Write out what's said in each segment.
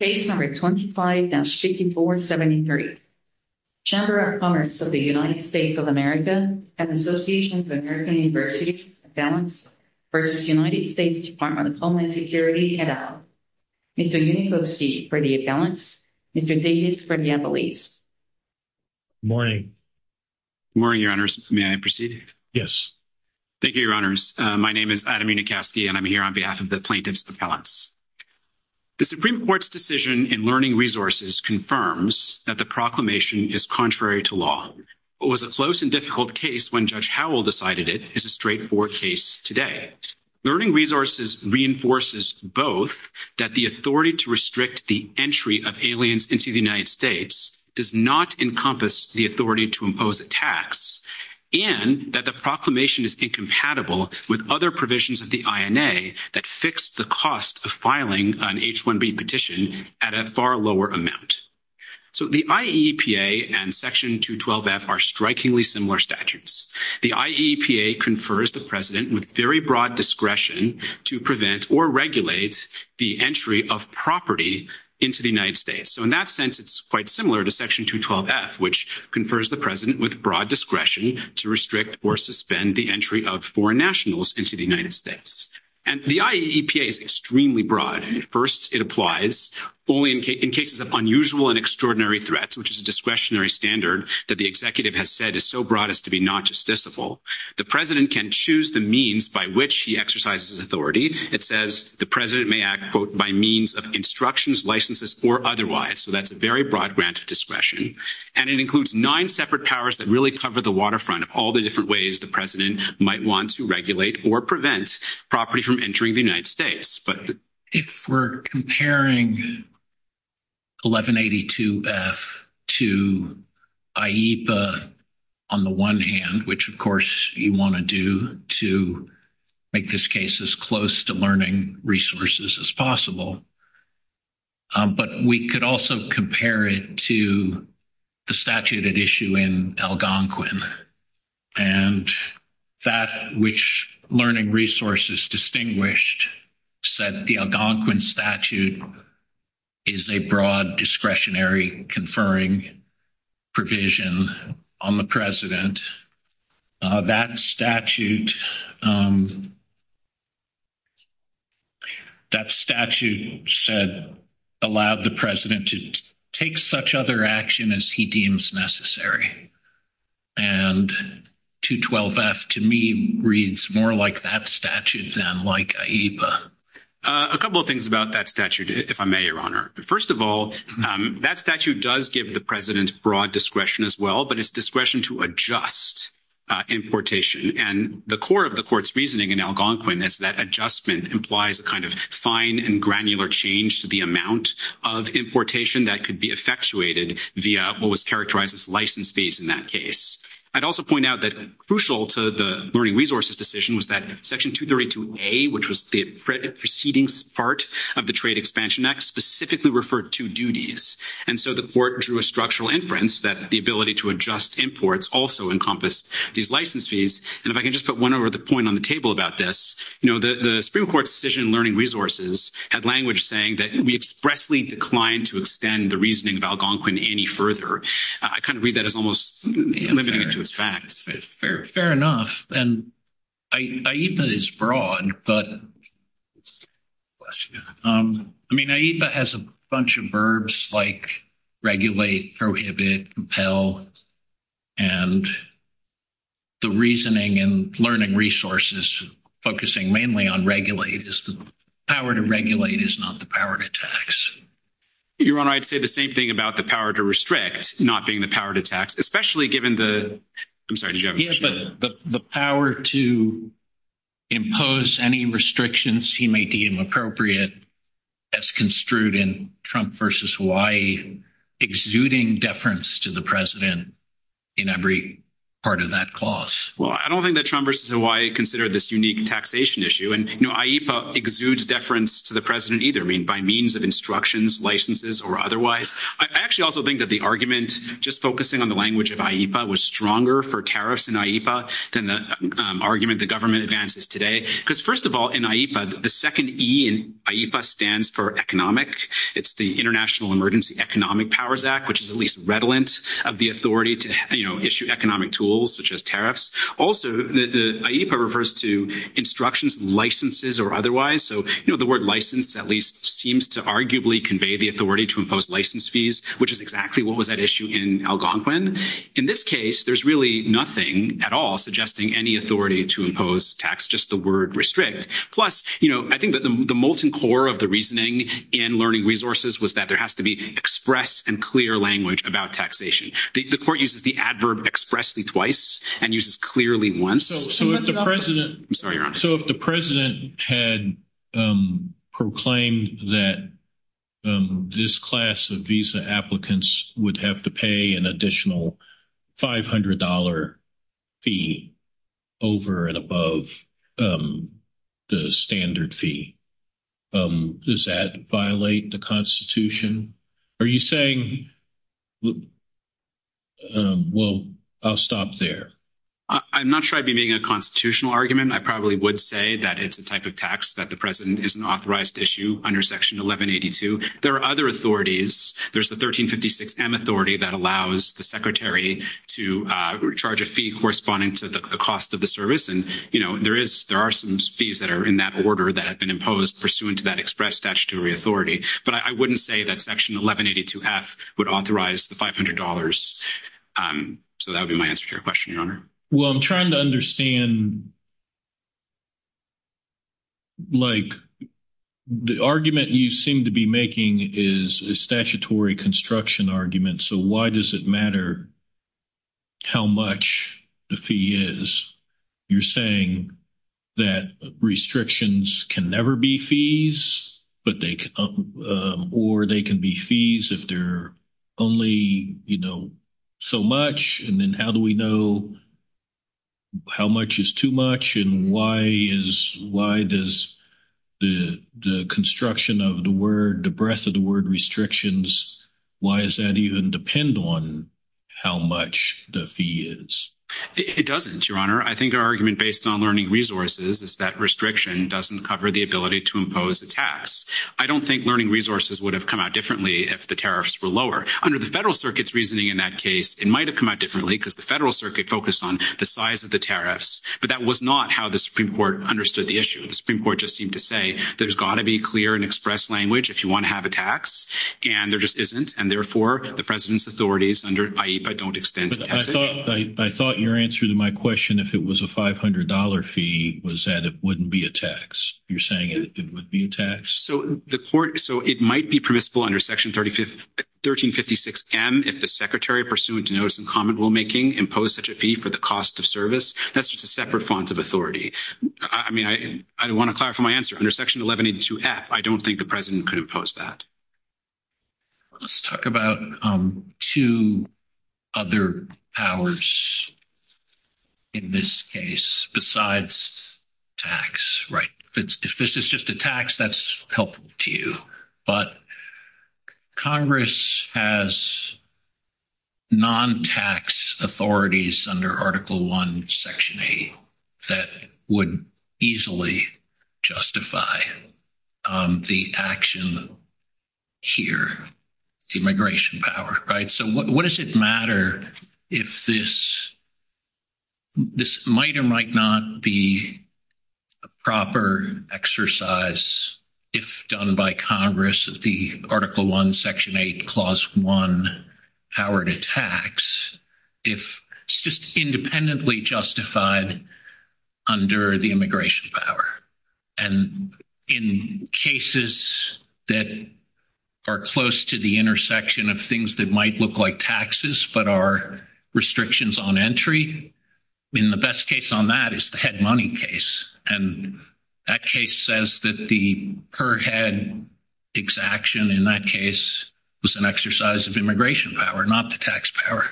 Page 125-6473. Chamber of Commerce of the United States of America and Associations of American Universities, Accounts, versus United States Department of Homeland Security, et al. Mr. Yunikovsky for the Accounts, Mr. Davis for the Appellees. Morning. Morning, Your Honors. May I proceed? Yes. Thank you, Your Honors. My name is Adam The Supreme Court's decision in Learning Resources confirms that the proclamation is contrary to law, but was a close and difficult case when Judge Howell decided it is a straightforward case today. Learning Resources reinforces both that the authority to restrict the entry of aliens into the United States does not encompass the authority to impose a tax, and that the proclamation is incompatible with other provisions of the INA that fix the cost of filing an H-1B petition at a far lower amount. So the IEPA and Section 212F are strikingly similar statutes. The IEPA confers the President with very broad discretion to prevent or regulate the entry of property into the United States. So in that sense, it's quite similar to Section 212F, which confers the President with broad discretion to restrict or suspend the entry of foreign nationals into the United States. And the IEPA is extremely broad. First, it applies only in cases of unusual and extraordinary threats, which is a discretionary standard that the Executive has said is so broad as to be not justiciable. The President can choose the means by which he exercises authority. It says the President may act, quote, by means of instructions, licenses, or otherwise. So that's a very broad grant of discretion. And it includes nine separate powers that really cover the waterfront of all the different ways the President might want to regulate or prevent property from entering the United States. But if we're comparing 1182F to IEPA on the one hand, which, of course, you want to do to make this case as close to learning resources as possible, but we could also compare it to the statute at issue in Algonquin. And that which learning resources distinguished said the Algonquin statute is a broad discretionary conferring provision on the President. That statute said allowed the President to take such other action as he deems necessary. And 212F to me reads more like that statute than like IEPA. A couple of things about that statute, if I may, Your Honor. First of all, that statute does give the President broad discretion as well, but it's discretion to adjust importation. And the core of the Court's reasoning in Algonquin is that adjustment implies a kind of fine and granular change to the amount of importation that could be effectuated via what was characterized as license fees in that case. I'd also point out that crucial to the learning decision was that Section 232A, which was the preceding part of the Trade Expansion Act, specifically referred to duties. And so the Court drew a structural inference that the ability to adjust imports also encompassed these license fees. And if I can just put one other point on the table about this, you know, the Supreme Court's decision in learning resources had language saying that we expressly declined to extend the reasoning of Algonquin any further. I kind of IEPA is broad, but I mean, IEPA has a bunch of verbs like regulate, prohibit, compel, and the reasoning and learning resources focusing mainly on regulate is the power to regulate is not the power to tax. Your Honor, I'd say the same thing about the power to restrict not being the power to tax, especially given the, I'm sorry. He has the power to impose any restrictions he may deem appropriate as construed in Trump versus Hawaii exuding deference to the President in every part of that clause. Well, I don't think that Trump versus Hawaii considered this unique taxation issue. And you know, IEPA exudes deference to the President either, I mean, by means of instructions, licenses, or otherwise. I actually also think that the argument just focusing on the language of IEPA was stronger for tariffs in IEPA than the argument the government advances today. Because first of all, in IEPA, the second E in IEPA stands for economic. It's the International Emergency Economic Powers Act, which is at least redolent of the authority to, you know, issue economic tools such as tariffs. Also, the IEPA refers to instructions, licenses, or otherwise. So, you know, the word license at least seems to arguably convey the authority to impose license fees, which is exactly what was at issue in Algonquin. In this case, there's really nothing at all suggesting any authority to impose tax, just the word restrict. Plus, you know, I think that the molten core of the reasoning in learning resources was that there has to be express and clear language about taxation. The court uses the adverb expressly twice and uses clearly once. So if the president had proclaimed that this class of visa applicants would have to pay an additional $500 fee over and above the standard fee, does that violate the Constitution? Are you a constitutional argument? I probably would say that it's the type of tax that the president is an authorized issue under Section 1182. There are other authorities. There's the 1356M authority that allows the secretary to recharge a fee corresponding to the cost of the service. And, you know, there are some fees that are in that order that have been imposed pursuant to that express statutory authority. But I wouldn't say that Section 1182F would authorize the $500. So that would be my answer to your question, Your Honor. Well, I'm trying to understand, like, the argument you seem to be making is a statutory construction argument. So why does it matter how much the fee is? You're saying that restrictions can never be fees, or they can be fees if they're only, you know, so much. And then how do we know how much is too much? And why does the construction of the word, the breadth of the word restrictions, why does that even depend on how much the fee is? It doesn't, Your Honor. I think our argument based on learning resources is that restriction doesn't cover the ability to impose a tax. I don't think learning resources would have come out differently if the tariffs were lower. Under the Federal Circuit's reasoning in that case, it might have come out differently because the Federal Circuit focused on the size of the tariffs. But that was not how the Supreme Court understood the issue. The Supreme Court just seemed to say there's got to be clear and express language if you want to have a tax. And there just isn't. And therefore, the President's authorities under, i.e., if I don't extend the tax. But I thought your answer to my question, if it was a $500 fee, was that it wouldn't be a tax. You're saying it would be a tax? So the court, so it might be permissible under Section 1356M if the Secretary, pursuant to notice in common rulemaking, imposed such a fee for the cost of service. That's just a separate font of authority. I mean, I want to clarify my answer. Under Section 1182F, I don't think the President could impose that. Let's talk about two other powers in this case besides tax, right? If this is just a tax, that's helpful to you. But Congress has non-tax authorities under Article I, Section 8 that would easily justify the action here, here, immigration power, right? So what does it matter if this, this might or might not be a proper exercise if done by Congress, if the Article I, Section 8, Clause 1, powered a tax, if it's just independently justified under the immigration power? And in cases that are close to the intersection of things that might look like taxes but are restrictions on entry, I mean, the best case on that is the head money case. And that case says that the per head exaction in that case was an exercise of immigration power, not the tax power.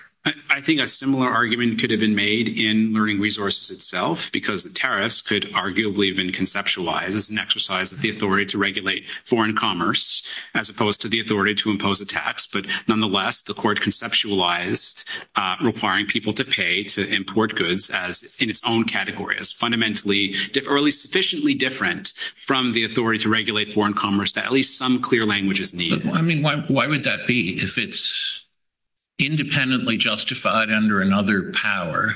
I think a similar argument could have been made in learning resources itself, because the tariffs could arguably have been conceptualized as an exercise of the authority to regulate foreign commerce, as opposed to the authority to impose a tax. But nonetheless, the court conceptualized requiring people to pay to import goods as in its own category, as fundamentally or at least sufficiently different from the authority to regulate foreign commerce that at least some clear languages need. I mean, why would that be? If it's independently justified under another power,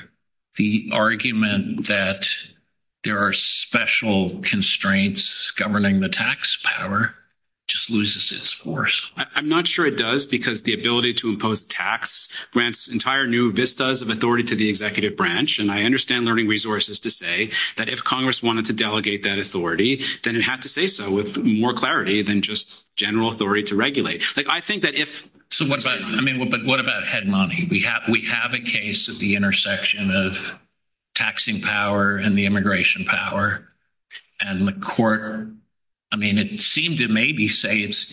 the argument that there are special constraints governing the tax power just loses its force. I'm not sure it does, because the ability to impose tax grants entire new vistas of authority to the executive branch. And I understand learning resources to say that if Congress wanted to delegate that authority, then it had to say so with more clarity than just general authority to regulate. I think that if so, what about I mean, what about head money, we have we have a case of the intersection of taxing power and the immigration power. And the court, I mean, it seemed to maybe say it's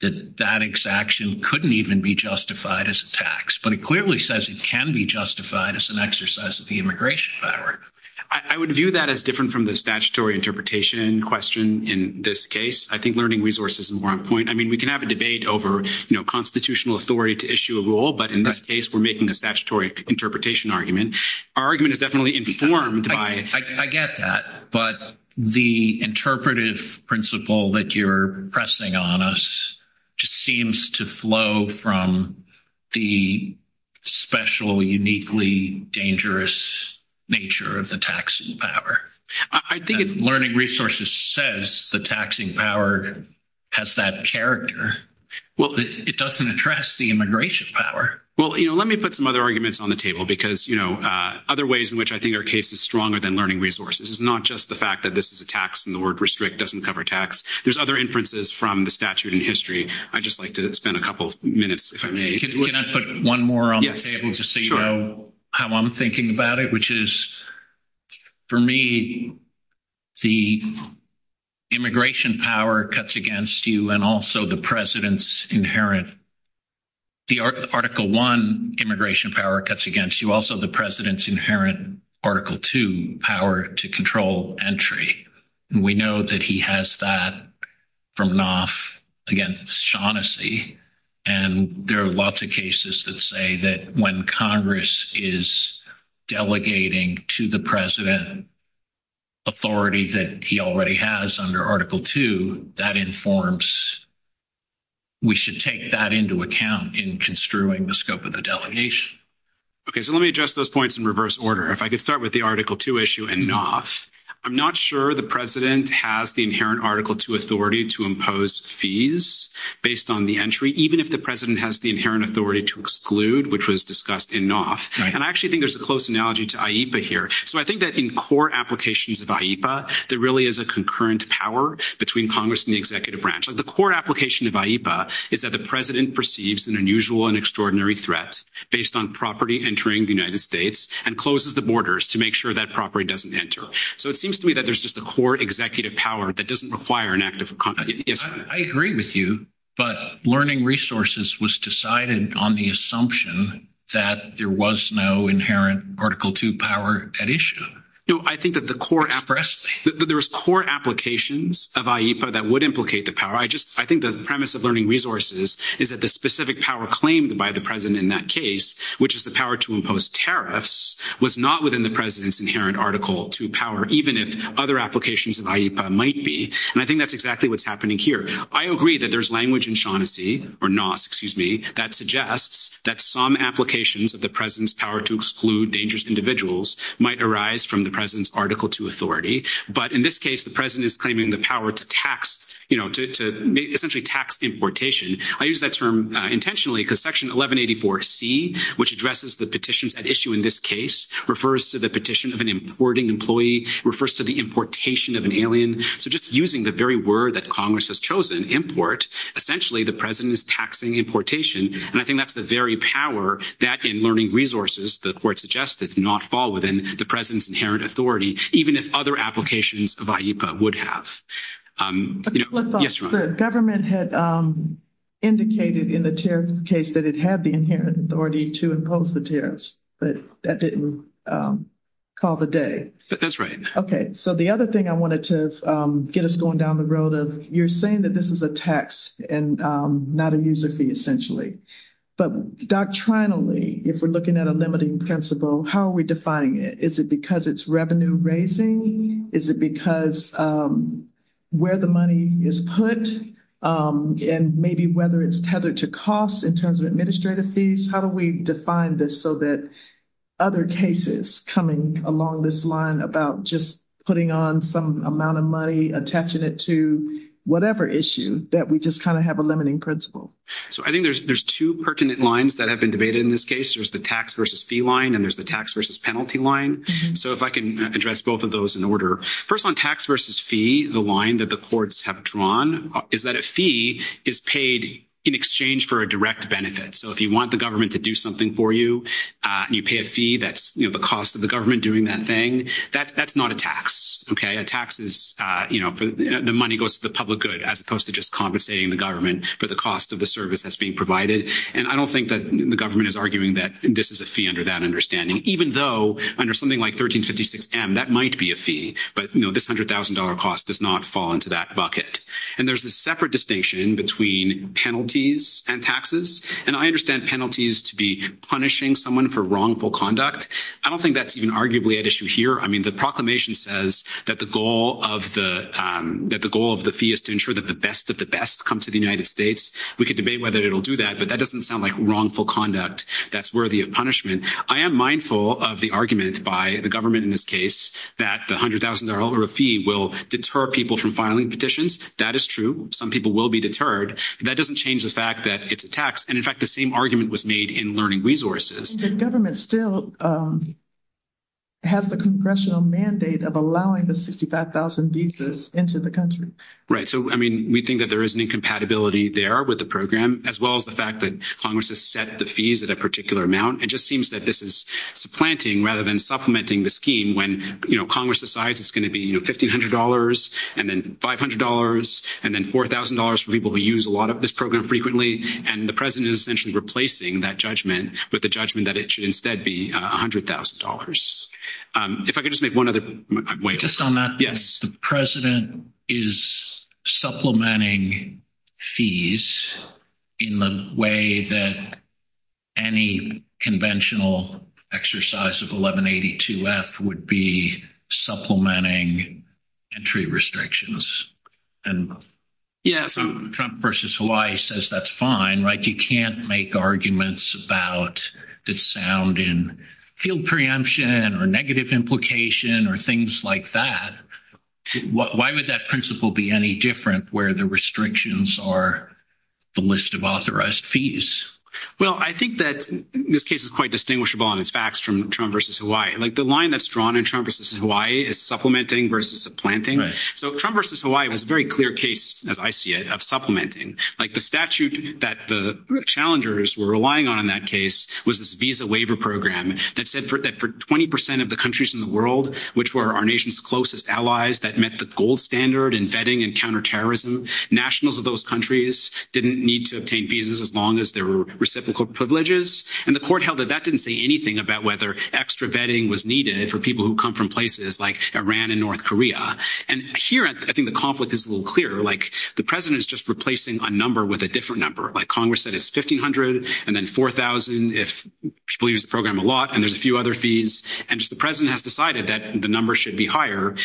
that that exaction couldn't even be justified as a tax, but it clearly says it can be justified as an exercise of the immigration power. I would view that as different from the statutory interpretation question. In this case, I think learning resources is more on point. I mean, we can have a debate over, you know, constitutional authority to issue a rule. But in this case, we're making a statutory interpretation argument. Our argument is definitely informed by... I get that. But the interpretive principle that you're pressing on us just seems to flow from the special, uniquely dangerous nature of the taxing power. I think learning resources says the taxing power has that character. Well, it doesn't address the immigration power. Well, let me put some other arguments on the table, because, you know, other ways in which I think our case is stronger than learning resources is not just the fact that this is a tax and the word restrict doesn't cover tax. There's other inferences from the statute in history. I'd just like to spend a couple of minutes, if I may. Can I put one more on the table to see how I'm thinking about it, which is, for me, the immigration power cuts against you and also the president's inherent... The Article I immigration power cuts against you, also the president's inherent Article II power to control entry. We know that he has that from Knopf against Shaughnessy. And there are lots of cases that say that when Congress is delegating to the president authority that he already has under Article II, that informs... We should take that into account in construing the scope of the delegation. Okay, so let me address those points in reverse order. If I could start with the Article II issue in Knopf. I'm not sure the president has the inherent Article II authority to impose fees based on the entry, even if the president has the inherent authority to exclude, which was discussed in Knopf. And I actually think there's a close analogy to AIPA here. So I think that in core applications of AIPA, there really is a concurrent power between Congress and the executive branch. The core application of AIPA is that the president perceives an unusual and extraordinary threat based on property entering the United States and closes the borders to make sure that property doesn't enter. So it seems to me that there's just a core executive power that doesn't require an act of... I agree with you, but learning resources was decided on the assumption that there was no inherent Article II power at issue. No, I think that the core... There was core applications of AIPA that would implicate the power. I think the premise of learning resources is that the specific power claimed by the president in that case, which is the power to impose tariffs, was not within the president's inherent Article II power, even if other applications of AIPA might be. And I think that's exactly what's happening here. I agree that there's language in Shaughnessy, or Knopf, excuse me, that suggests that some applications of the president's power to exclude dangerous individuals might arise from the president's Article II authority. But in this case, the president is claiming the power to tax, you know, to essentially tax importation. I use that term intentionally because Section 1184C, which addresses the petitions at issue in this case, refers to the petition of an importing employee, refers to the importation of an alien. So just using the very word that Congress has chosen, import, essentially the president is taxing importation. And I think that's the very power that, in learning resources, the court suggested, did not fall within the president's inherent authority, even if other applications of AIPA would have. Yes, Ron. The government had indicated in the tariff case that it had the inherent authority to impose the tariffs, but that didn't call the day. That's right. Okay. So the other thing I wanted to get us going down the road of, you're saying that this is a tax and not a user fee, essentially. But doctrinally, if we're looking at a limiting principle, how are we defining it? Is it because it's revenue raising? Is it because where the money is put? And maybe whether it's tethered to cost in terms of administrative fees? How do we define this so that other cases coming along this line about just putting on some amount of money, attaching it to whatever issue, that we just kind of have a limiting principle? So I think there's two pertinent lines that have been debated in this case. There's the tax versus fee line, and there's the tax versus penalty line. So if I can address both of those in order. First on tax versus fee, the line that the courts have drawn is that a fee is paid in exchange for a direct benefit. So if you want the government to do something for you, you pay a fee, that's the cost of the government doing that thing. That's not a tax, okay? A tax is the money goes to the public good, as opposed to just compensating the government for the cost of the service that's being provided. And I don't think that the government is arguing that this is a fee under that understanding, even though under something like 1356M, that might be a fee, but this $100,000 cost does not fall into that bucket. And there's a separate distinction between penalties and taxes. And I understand penalties to be punishing someone for wrongful conduct. I don't think that's even arguably at issue here. I mean, the proclamation says that the goal of the fee is to ensure that the best of the best comes to the United States. We could debate whether it'll do that, but that doesn't sound like wrongful conduct that's worthy of punishment. I am mindful of the argument by the government in this case, that the $100,000 fee will deter people from filing petitions. That is true. Some people will be deterred. That doesn't change the fact that it's a tax. And in fact, the same argument was made in learning resources. The government still has the congressional mandate of allowing the 65,000 visas into the country. Right. So, I mean, we think that there is an incompatibility there with the program, as well as the fact that Congress has set the fees at a particular amount. It just seems that this is supplanting rather than supplementing the scheme when Congress decides it's going to be $1,500, and then $500, and then $4,000 for people who use a lot of this program frequently. And the president is essentially replacing that judgment with the judgment that it should instead be $100,000. If I could just make one other point. Just on that. Yes. The president is supplementing fees in the way that any conventional exercise of 1182F would be supplementing entry restrictions. And Trump versus Hawaii says that's fine, right? You can't make arguments about the sound in field preemption or negative implication or things like that. Why would that principle be any different where the restrictions are the list of authorized fees? Well, I think that this case is quite distinguishable on its facts from Trump versus Hawaii as supplementing versus supplanting. So Trump versus Hawaii was a very clear case, as I see it, of supplementing. The statute that the challengers were relying on in that case was this visa waiver program that said that for 20% of the countries in the world, which were our nation's closest allies that met the gold standard in vetting and counterterrorism, nationals of those countries didn't need to obtain visas as long as there were reciprocal privileges. And the court held that that didn't say anything about whether extra vetting was needed for people who come from places like Iran and North Korea. And here, I think the conflict is a little clearer. Like the president is just replacing a number with a different number. Like Congress said, it's 1,500 and then 4,000 if she believes the program a lot, and there's a few other fees. And the president has decided that the number should be higher. And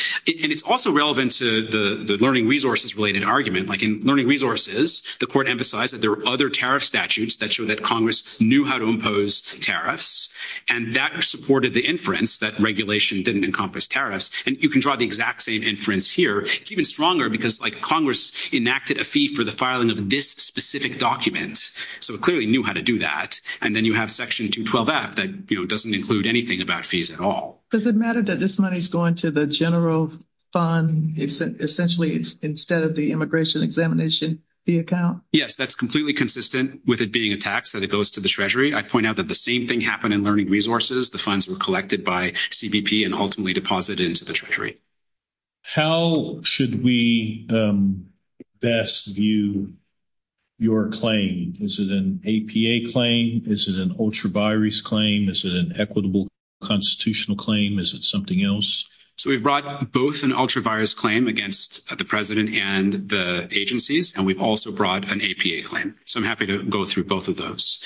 it's also relevant to the learning resources related argument. Like in learning resources, the court emphasized that there were other tariff statutes that show that Congress knew how to impose tariffs. And that supported the inference that regulation didn't encompass tariffs. And you can draw the exact same inference here. It's even stronger because like Congress enacted a fee for the filing of this specific document. So it clearly knew how to do that. And then you have section 212F that, you know, doesn't include anything about fees at all. Does it matter that this money is going to the general fund essentially instead of the immigration examination fee account? Yes, that's completely consistent with it being a tax that it goes to the treasury. I'd point out that same thing happened in learning resources. The funds were collected by CBP and ultimately deposited into the treasury. How should we best view your claim? Is it an APA claim? Is it an ultra virus claim? Is it an equitable constitutional claim? Is it something else? So we brought both an ultra virus claim against the president and the agencies. And we've also brought an APA claim. So I'm happy to go through both of those.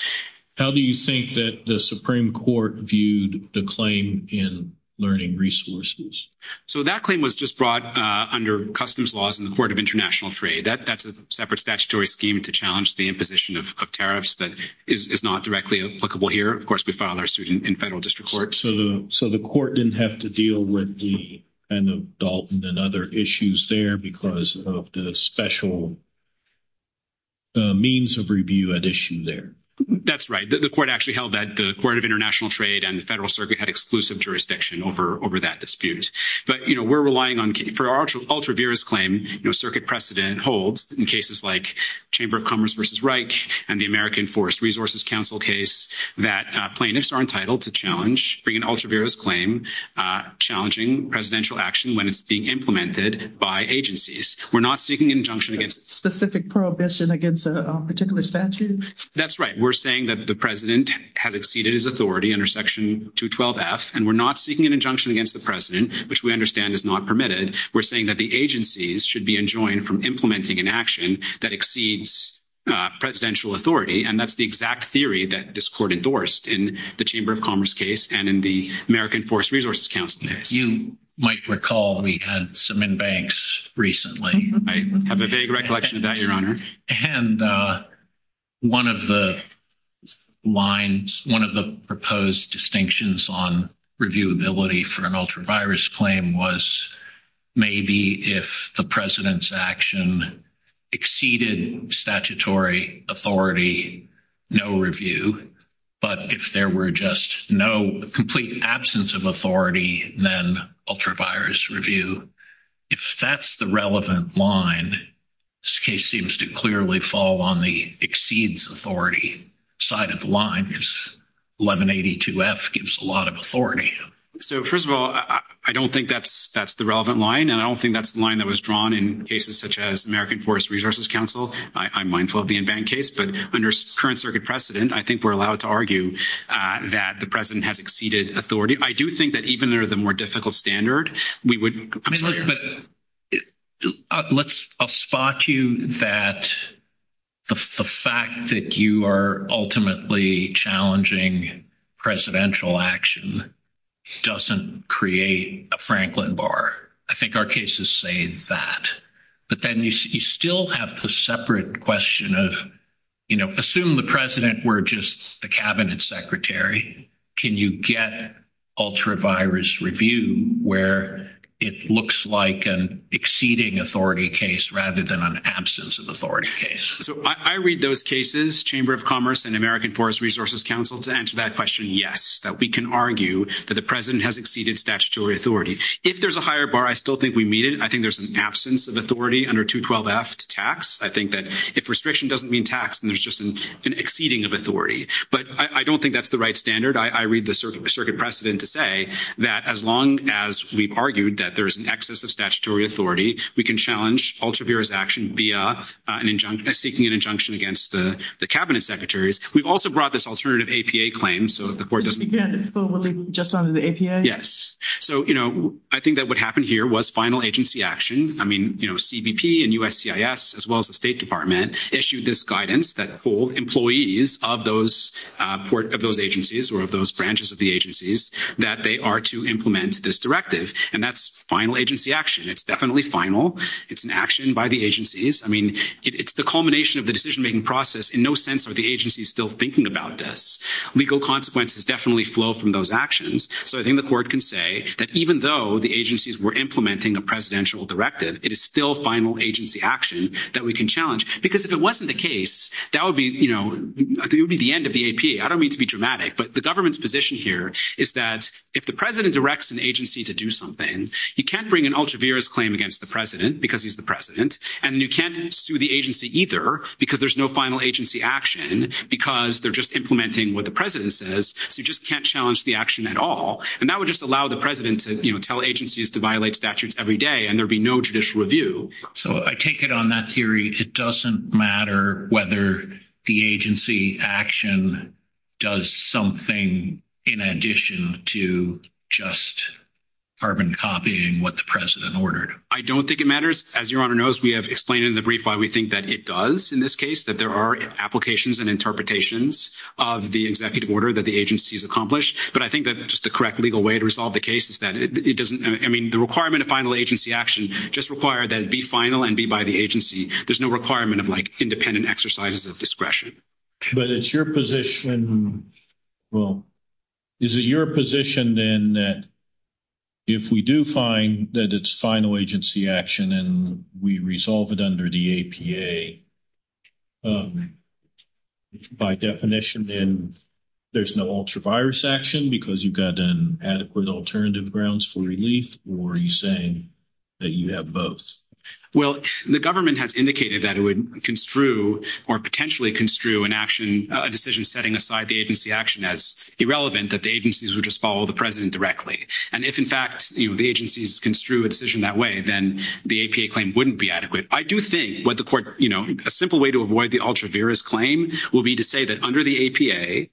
How do you think that the Supreme Court viewed the claim in learning resources? So that claim was just brought under customs laws in the court of international trade. That's a separate statutory scheme to challenge the imposition of tariffs that is not directly applicable here. Of course, we filed our suit in federal district court. So the court didn't have to deal with the end of Dalton and other issues there because of the special means of review addition there. That's right. The court actually held that the court of international trade and the federal circuit had exclusive jurisdiction over that dispute. But, you know, we're relying on for our ultra virus claim, you know, circuit precedent holds in cases like chamber of commerce versus Reich and the American forest resources council case that plaintiffs are entitled to challenge bring an ultra virus claim challenging presidential action when it's being implemented by agencies. We're not seeking injunction against specific prohibition against a particular statute. That's right. We're saying that the president has exceeded his authority under section 212 F and we're not seeking an injunction against the president, which we understand is not permitted. We're saying that the agencies should be enjoined from implementing an action that exceeds presidential authority. And that's the exact theory that this court endorsed in the chamber of commerce case and in the American forest resources council case. You might recall we had some in banks recently. I have a vague recollection of that your honor. And one of the lines, one of the proposed distinctions on reviewability for an ultra virus claim was maybe if the president's action exceeded statutory authority, no review, but if there were just no complete absence of authority, then ultra virus review. If that's the relevant line, this case seems to clearly fall on the exceeds authority side of the line is 1182 F gives a lot of authority. So first of all, I don't think that's, that's the relevant line. And I don't think that's the line that was drawn in cases such as American forest resources council. I'm mindful of the in-bank case, but under current circuit precedent, I think we're allowed to argue that the president has exceeded authority. I do think that even though they're the more difficult standard, we wouldn't. I mean, let's, I'll spot you that the fact that you are ultimately challenging presidential action doesn't create a Franklin bar. I think our cases say that, but then you still have the separate question of, you know, assume the president were just the cabinet secretary. Can you get ultra virus review where it looks like an exceeding authority case rather than an absence of authority case. So I read those cases, chamber of commerce and American forest resources council to answer that question. Yes, that we can argue that the president has exceeded statutory authority. If there's a higher bar, I still think we meet it. And I think there's an absence of authority under two 12 F tax. I think that if restriction doesn't mean tax and there's just an exceeding of authority, but I don't think that's the right standard. I read the circuit precedent to say that as long as we've argued that there's an excess of statutory authority, we can challenge ultra virus action via an injunction seeking an injunction against the cabinet secretaries. We've also brought this alternative APA claim. So the board doesn't just under the APA. Yes. So, you know, I think that what happened here was final agency action. I mean, you know, CBP and USCIS as well as the state department issued this guidance that full employees of those, uh, port of those agencies or of those branches of the agencies that they are to implement this directive and that's final agency action. It's definitely final. It's an action by the agencies. I mean, it's the culmination of the decision-making process in no sense. Are the agencies still thinking about this legal consequences definitely flow from those actions. So I think the court can say that even though the agencies were implementing a presidential directive, it is still final agency action that we can challenge because if it wasn't the case, that would be, you know, it would be the end of the APA. I don't mean to be dramatic, but the government's position here is that if the president directs an agency to do something, you can't bring an ultra virus claim against the president because he's the president and you can't sue the agency either because there's no final agency action because they're just implementing what the president says. So you just can't challenge the action at all. And that would just allow the president to tell agencies to violate statutes every day and there would be no judicial review. So I take it on that theory. It doesn't matter whether the agency action does something in addition to just carbon copying what the president ordered. I don't think it matters. As your honor knows, we have explained in the brief why we think that it does in this case, that there are applications and interpretations of the executive order that the agency has accomplished. But I think that that's just the correct legal way to resolve the case is that it doesn't, I mean, the requirement of final agency action just require that it be final and be by the agency. There's no requirement of like independent exercises of discretion. But it's your position. Well, is it your position then that if we do find that it's final agency action and we resolve it under the APA, by definition, then there's no ultra-virus action because you've got an adequate alternative grounds for relief or are you saying that you have both? Well, the government has indicated that it would construe or potentially construe an action, a decision setting aside the agency action as irrelevant that the agencies would just follow the president directly. And if in fact, the agencies construe a decision that way, then the APA claim wouldn't be adequate. I do think what the court, a simple way to avoid the ultra-virus claim will be to say that under the APA,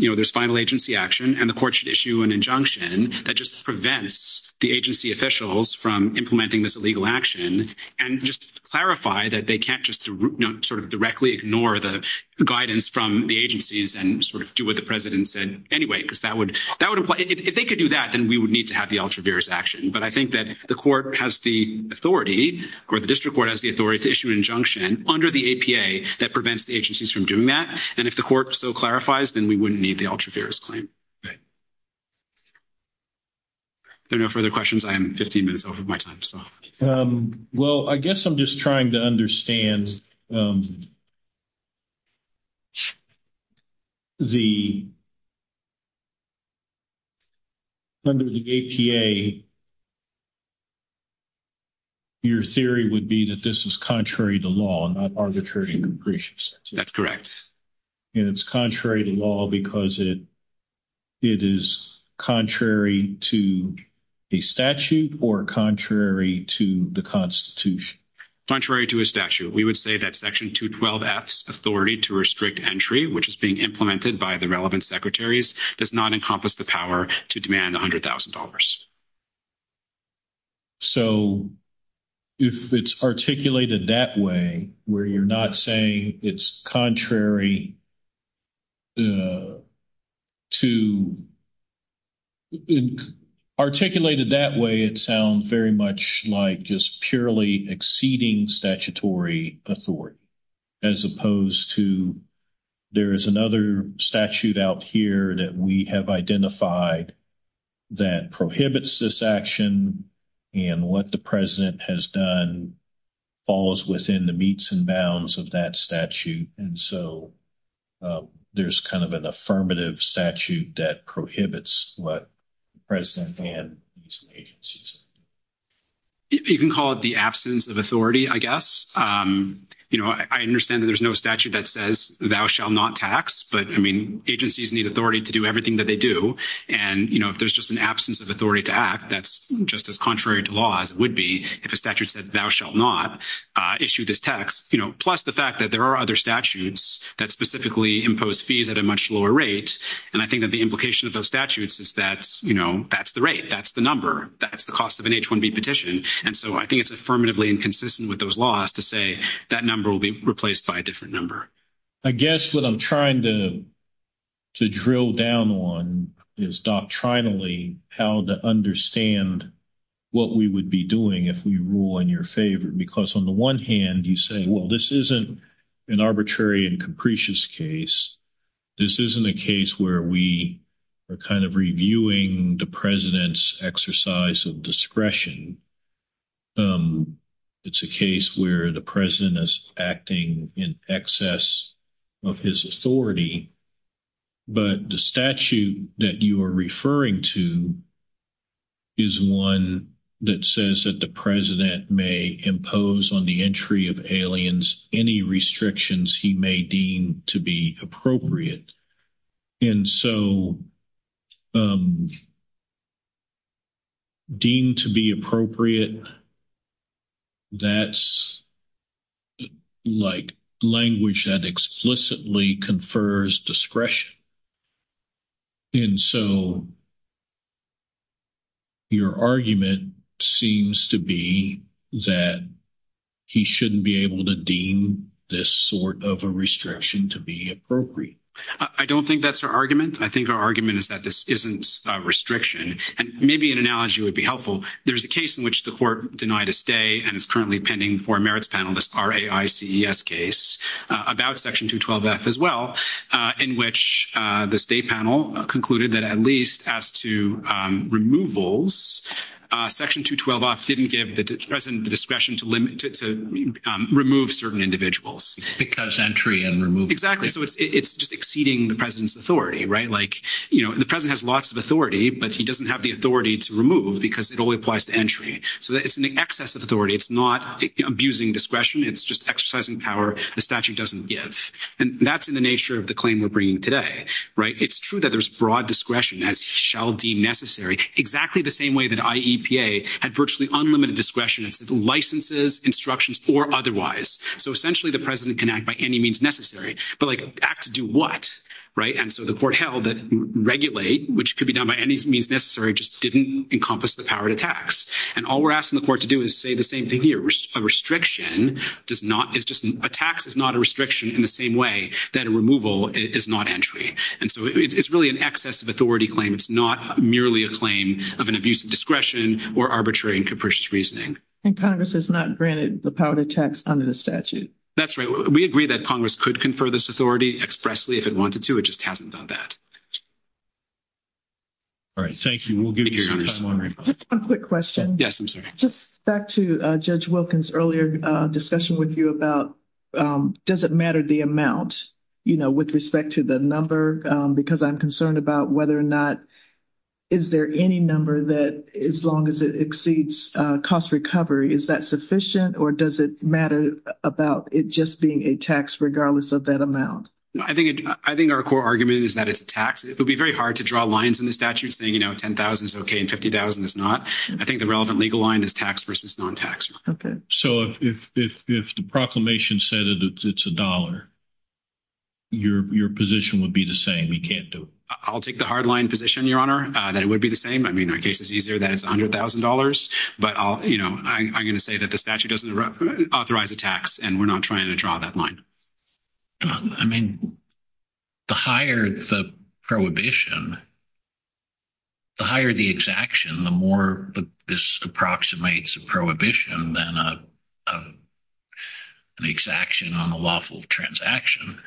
there's final agency action and the court should issue an injunction that just prevents the agency officials from implementing this illegal action and just clarify that they can't just sort of directly ignore the guidance from the agencies and sort of do what the president said anyway because that would imply, if they could do that, then we would need to have the ultra-virus action. But I think that if the court has the authority or the district court has the authority to issue an injunction under the APA that prevents the agencies from doing that, then if the court so clarifies, then we wouldn't need the ultra-virus claim. Are there no further questions? I'm 15 minutes over my time. Well, I guess I'm just trying to understand if the, under the APA, your theory would be that this is contrary to law, not arbitrary and imprecise. That's correct. And it's contrary to law because it is contrary to a statute or contrary to the constitution. Contrary to a statute. We would say that section 212 acts authority to restrict entry, which is being implemented by the relevant secretaries, does not encompass the power to demand $100,000. So if it's articulated that way, where you're not saying it's contrary to, articulated that way, it sounds very much like just purely exceeding statutory authority, as opposed to there is another statute out here that we have identified that prohibits this action and what the president has done falls within the meets and bounds of that statute. And so there's kind of an affirmative statute that prohibits what the president can do. You can call it the absence of authority, I guess. I understand that there's no statute that says thou shall not tax, but I mean, agencies need authority to do everything that they do. And if there's just an absence of act, that's just as contrary to laws would be if a statute said thou shall not issue this tax, plus the fact that there are other statutes that specifically impose fees at a much lower rate. And I think that the implication of those statutes is that that's the rate, that's the number, that's the cost of an H-1B petition. And so I think it's affirmatively inconsistent with those laws to say that number will be replaced by a different number. I guess what I'm trying to to drill down on is doctrinally how to understand what we would be doing if we rule in your favor. Because on the one hand, you say, well, this isn't an arbitrary and capricious case. This isn't a case where we are kind of reviewing the president's exercise of discretion. It's a case where the president is acting in excess of his authority. But the statute that you are referring to is one that says that the president may impose on the entry of aliens any restrictions he may deem to be appropriate. And so deemed to be appropriate, that's like language that explicitly confers discretion. And so your argument seems to be that he shouldn't be able to deem this sort of a restriction to be appropriate. I don't think that's our argument. I think our argument is that this isn't a restriction. And maybe an analogy would be helpful. There's a case in which the court denied a stay, and it's currently pending for a merits panel, this RAICES case, about Section 212F as well, in which the state panel concluded that at least as to removals, Section 212F didn't give the president the discretion to remove certain individuals. It's just exceeding the president's authority, right? Like, you know, the president has lots of authority, but he doesn't have the authority to remove because it only applies to entry. So it's an excess of authority. It's not abusing discretion. It's just exercising power the statute doesn't give. And that's in the nature of the claim we're bringing today, right? It's true that there's broad discretion, as shall be necessary, exactly the same way that IEPA had virtually unlimited discretion in licenses, instructions, or otherwise. So essentially, the president can act by any means necessary, but like, act to do what, right? And so the court held that regulate, which could be done by any means necessary, just didn't encompass the power to tax. And all we're asking the court to do is say the same thing here. A restriction does not, it's just a tax is not a restriction in the same way that a removal is not entry. And so it's really an excess of authority claim. It's not merely a claim of an abuse of discretion or arbitrary and capricious reasoning. And Congress has not granted the power to tax under the statute. That's right. We agree that Congress could confer this authority expressly if it wanted to. It just hasn't done that. All right. Thank you. We'll give you time. A quick question. Yes, I'm sorry. Just back to Judge Wilkins' earlier discussion with you about, does it matter the amount, you know, with respect to the number? Because I'm concerned about whether or not, is there any number that as long as it exceeds cost recovery, is that sufficient? Or does it matter about it just being a tax regardless of that amount? I think our core argument is that it's a tax. It would be very hard to draw lines in the statute saying, you know, $10,000 is okay and $50,000 is not. I think the relevant legal line is tax versus non-tax. Okay. So if the proclamation said it's a dollar, your position would be the same? You can't do it? I'll take the hard line position, Your Honor, that it would be the same. I mean, our case is easier that it's $100,000. But, you know, I'm going to say that the statute doesn't authorize a tax and we're not trying to draw that line. I mean, the higher the prohibition, the higher the exaction, the more this approximates a prohibition than an exaction on a lawful transaction.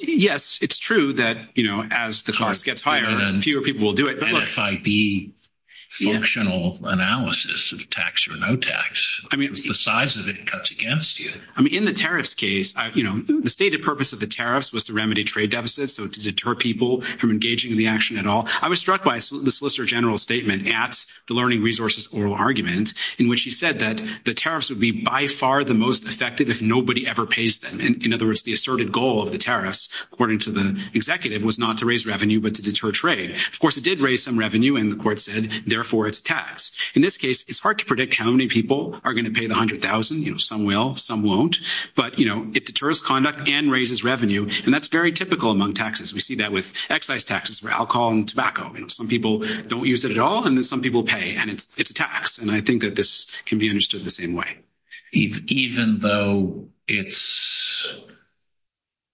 Yes, it's true that, you know, as the cost gets higher, fewer people will do it. And if I de-functional analysis of tax or no tax, the size of it cuts against you. I mean, in the tariffs case, you know, the stated purpose of the tariffs was to remedy trade deficits, so to deter people from engaging in the action at all. I was struck by the Solicitor General's statement at the learning resources oral argument in which he said that the tariffs would be by far the most effective if nobody ever pays them. In other words, the asserted goal of the tariffs, according to the executive, was not to raise revenue but to deter trade. Of course, it did raise some revenue and the court said, therefore, it's tax. In this case, it's hard to predict how many people are going to pay the $100,000. You know, some will, some won't. But, you know, it deters conduct and raises revenue, and that's very typical among taxes. We see that with excise taxes for alcohol and tobacco. You know, some people don't use it at all, and then some people pay, and it's tax. And I think that this can be understood the same way. Even though it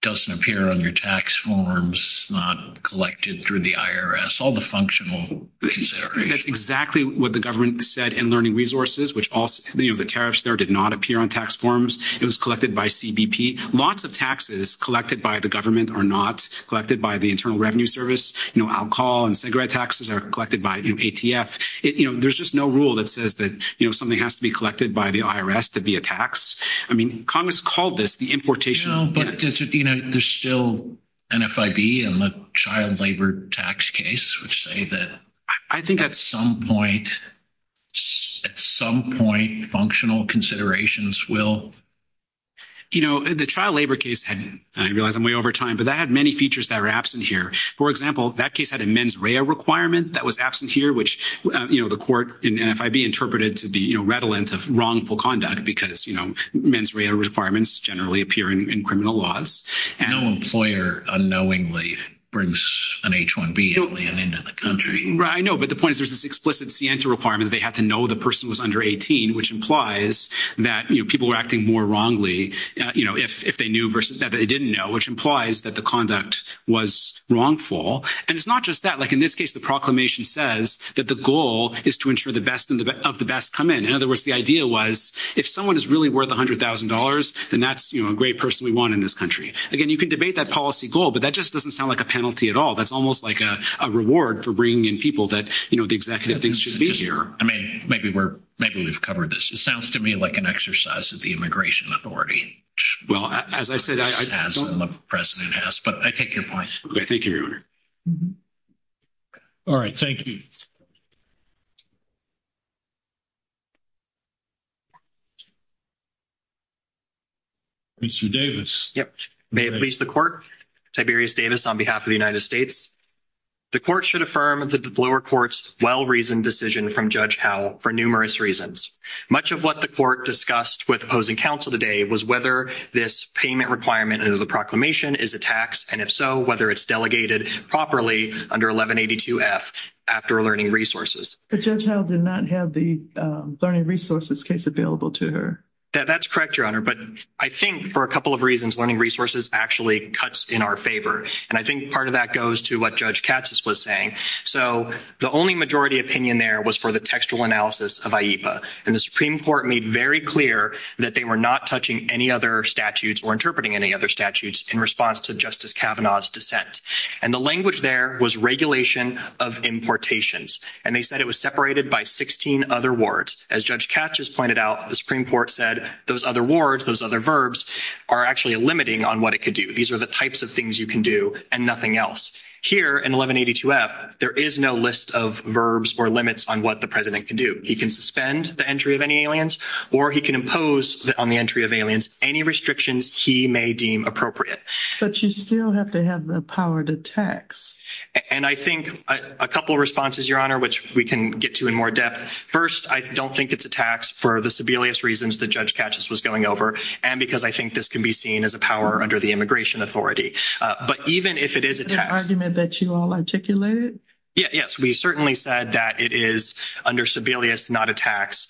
doesn't appear on your tax forms, not collected through the IRS, all the functional considerations. That's exactly what the government said in learning resources, which also, you know, the tariffs there did not appear on tax forms. It was collected by CBP. Lots of taxes collected by the government are not collected by the Internal Revenue Service. You know, alcohol and cigarette taxes are collected by the ATF. You know, there's just no rule that says that, you know, something has to be collected by the IRS to be a tax. I mean, Congress called this the importation. But, you know, there's still NFIB and the child labor tax case, which say that... I think at some point, functional considerations will... You know, the child labor case, and I realize I'm way over time, but that had many features that are absent here. For example, that case had a mens rea requirement that was absent here, which, you know, the court in NFIB interpreted to be, you know, redolent of wrongful conduct because, you know, mens rea requirements generally appear in criminal laws. No employer unknowingly brings an H-1B alien into the country. I know, but the point is there's this explicit sienta requirement that they have to know the person was under 18, which implies that people were acting more wrongly, you know, if they knew versus if they didn't know, which implies that the conduct was wrongful. And it's not just that. Like in this case, the proclamation says that the goal is to ensure the best of the best come in. In other words, the idea was if someone is really worth $100,000, then that's, you know, a great person we want in this country. Again, you can debate that policy goal, but that just doesn't sound like a penalty at all. That's almost like a reward for bringing in people that, you know, the executive should be here. I mean, maybe we're, maybe we've covered this. It sounds to me like an exercise of the immigration authority. Well, as I said, the president has, but I take your point. All right. Thank you. May I please the court, Tiberius Davis on behalf of the United States. The court should affirm that the Bloor court's well-reasoned decision from Judge Howell for numerous reasons. Much of what the court discussed with opposing counsel today was whether this payment requirement under the proclamation is a tax, and if so, whether it's delegated properly under 1182 F after learning resources. But Judge Howell did not have the learning resources case available to her. Yeah, that's correct, your honor. But I think for a couple of reasons, learning resources actually cuts in our favor. And I think part of that goes to what Judge Katsas was saying. So the only majority opinion there was for the textual analysis of AIPA. And the Supreme Court made very clear that they were not touching any other statutes or interpreting any other statutes in response to Justice Kavanaugh's dissent. And the language there was regulation of importations. And they said it was separated by 16 other words. As Judge Katsas pointed out, the Supreme Court said those other words, those other verbs are actually limiting on what it could do. These are the types of things you can do and nothing else. Here in 1182 F, there is no list of verbs or limits on what the president can do. He can suspend the entry of any aliens, or he can impose on the entry of aliens, any restrictions he may deem appropriate. But you still have to have the power to tax. And I think a couple of responses, your honor, which we can get to in more depth. First, I don't think it's a tax for the Sebelius reasons that Judge Katsas was going over. And because I think this can be seen as a power under the immigration authority. But even if it is a tax- The argument that you all articulated? Yeah. Yes. We certainly said that it is under Sebelius, not a tax.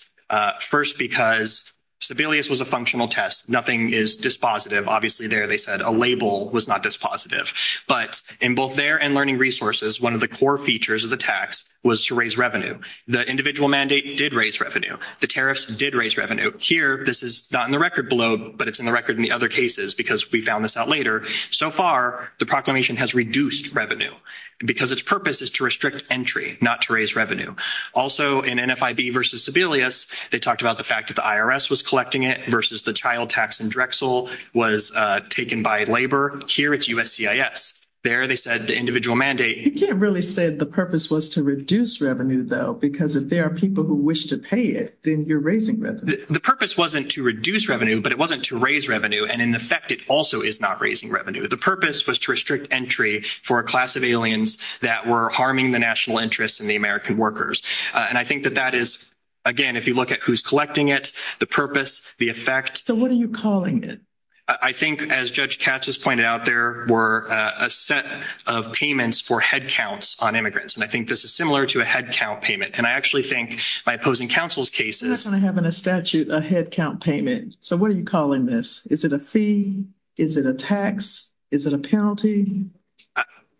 First, because Sebelius was a functional test. Nothing is dispositive. Obviously, there they said a label was not dispositive. But in both there and learning resources, one of the core features of the tax was to raise revenue. The individual mandate did raise revenue. The tariffs did raise revenue. Here, this is not in the record below, but it's in the record in the other cases, because we found this out later. So far, the proclamation has reduced revenue. Because its purpose is to restrict entry, not to raise revenue. Also, in NFIB versus Sebelius, they talked about the fact that the IRS was collecting it versus the child tax in Drexel was taken by labor. Here, it's USCIS. There they said the individual mandate- You can't really say the purpose was to reduce revenue, though, because if there are people who wish to pay it, then you're raising revenue. The purpose wasn't to reduce revenue, but it wasn't to raise revenue. And in effect, it also is not raising revenue. The purpose was to restrict entry for a class of aliens that were harming the national interest in the American workers. And I think that that is, again, if you look at who's collecting it, the purpose, the effect- So what are you calling it? I think, as Judge Katz has pointed out, there were a set of payments for head counts on immigrants. And I think this is similar to a head count payment. And I actually think by opposing counsel's cases- That's what I have in a statute, a head count payment. So what are you calling this? Is it a fee? Is it a tax? Is it a penalty?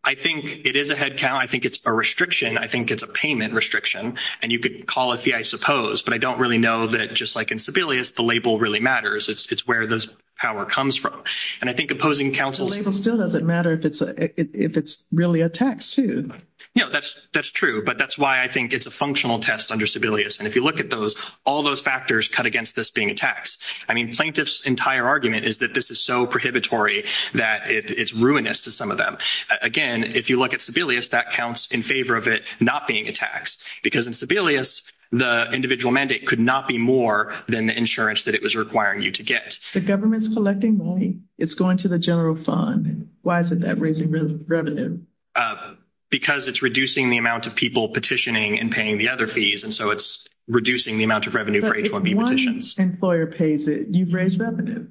I think it is a head count. I think it's a restriction. I think it's a payment restriction. And you could call it a fee, I suppose. But I don't really know that, just like in Sebelius, the label really matters. It's where this power comes from. And I think opposing counsel's- The label still doesn't matter if it's really a tax, too. No, that's true. But that's why I think it's a functional test under Sebelius. And if you look at those, all those factors cut against this being a tax. I mean, plaintiff's entire argument is that this is so prohibitory that it's ruinous to some of them. Again, if you look at Sebelius, that counts in favor of it not being a tax. Because in Sebelius, the individual mandate could not be more than the insurance that it was requiring you to get. The government's collecting money. It's going to the general fund. Why isn't that raising the revenue? Because it's reducing the amount of people petitioning and paying the other fees. And so it's reducing the amount of revenue- One employer pays it. You've raised revenue.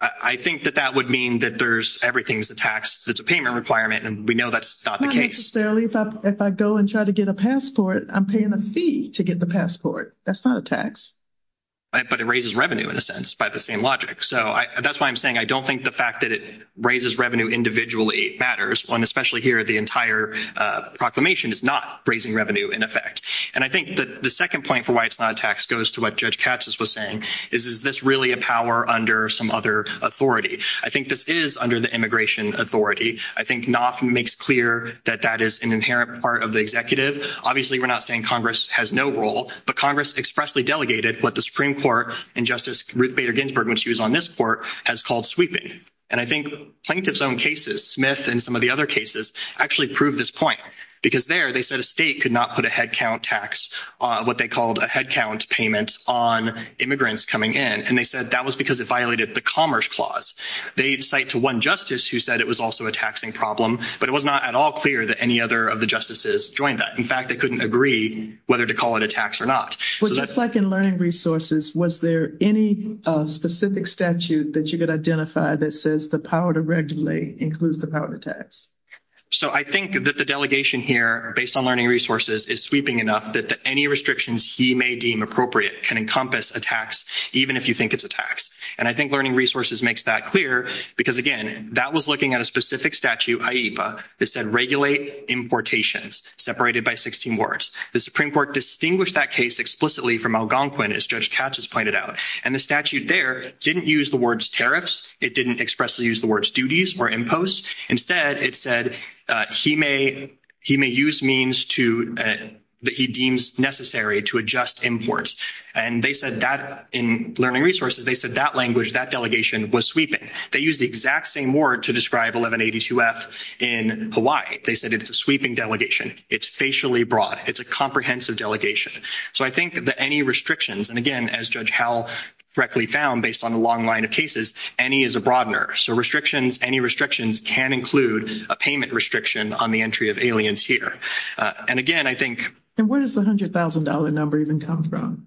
I think that that would mean that there's- everything's a tax. It's a payment requirement, and we know that's not the case. Not necessarily. If I go and try to get a passport, I'm paying a fee to get the passport. That's not a tax. But it raises revenue, in a sense, by the same logic. So that's why I'm saying I don't think the fact that it raises revenue individually matters. And especially here, the entire proclamation is not raising revenue, in effect. And I think that the second point for why it's is, is this really a power under some other authority? I think this is under the immigration authority. I think Knopf makes clear that that is an inherent part of the executive. Obviously, we're not saying Congress has no role, but Congress expressly delegated what the Supreme Court and Justice Ruth Bader Ginsburg, when she was on this court, has called sweeping. And I think Plaintiff's own cases, Smith and some of the other cases, actually prove this point. Because there, they said a state could not put a headcount tax, what they called a headcount payment, on immigrants coming in. And they said that was because it violated the Commerce Clause. They cite to one justice who said it was also a taxing problem, but it was not at all clear that any other of the justices joined that. In fact, they couldn't agree whether to call it a tax or not. So just like in learning resources, was there any specific statute that you could identify that says the power to regulate includes the power to tax? So I think that the delegation here, based on learning resources, is sweeping enough that any restrictions he may deem appropriate can encompass a tax, even if you think it's a tax. And I think learning resources makes that clear. Because again, that was looking at a specific statute, AIPA, that said regulate importations, separated by 16 words. The Supreme Court distinguished that case explicitly from Algonquin, as Judge Katz has pointed out. And the statute there didn't use the words tariffs. It didn't expressly use the words necessary to adjust imports. And they said that in learning resources, they said that language, that delegation was sweeping. They used the exact same word to describe 1182F in Hawaii. They said it's a sweeping delegation. It's facially broad. It's a comprehensive delegation. So I think that any restrictions, and again, as Judge Howell correctly found, based on the long line of cases, any is a broadener. So restrictions, any restrictions can include a payment restriction on the entry of aliens here. And again, I think— Where does the $100,000 number even come from?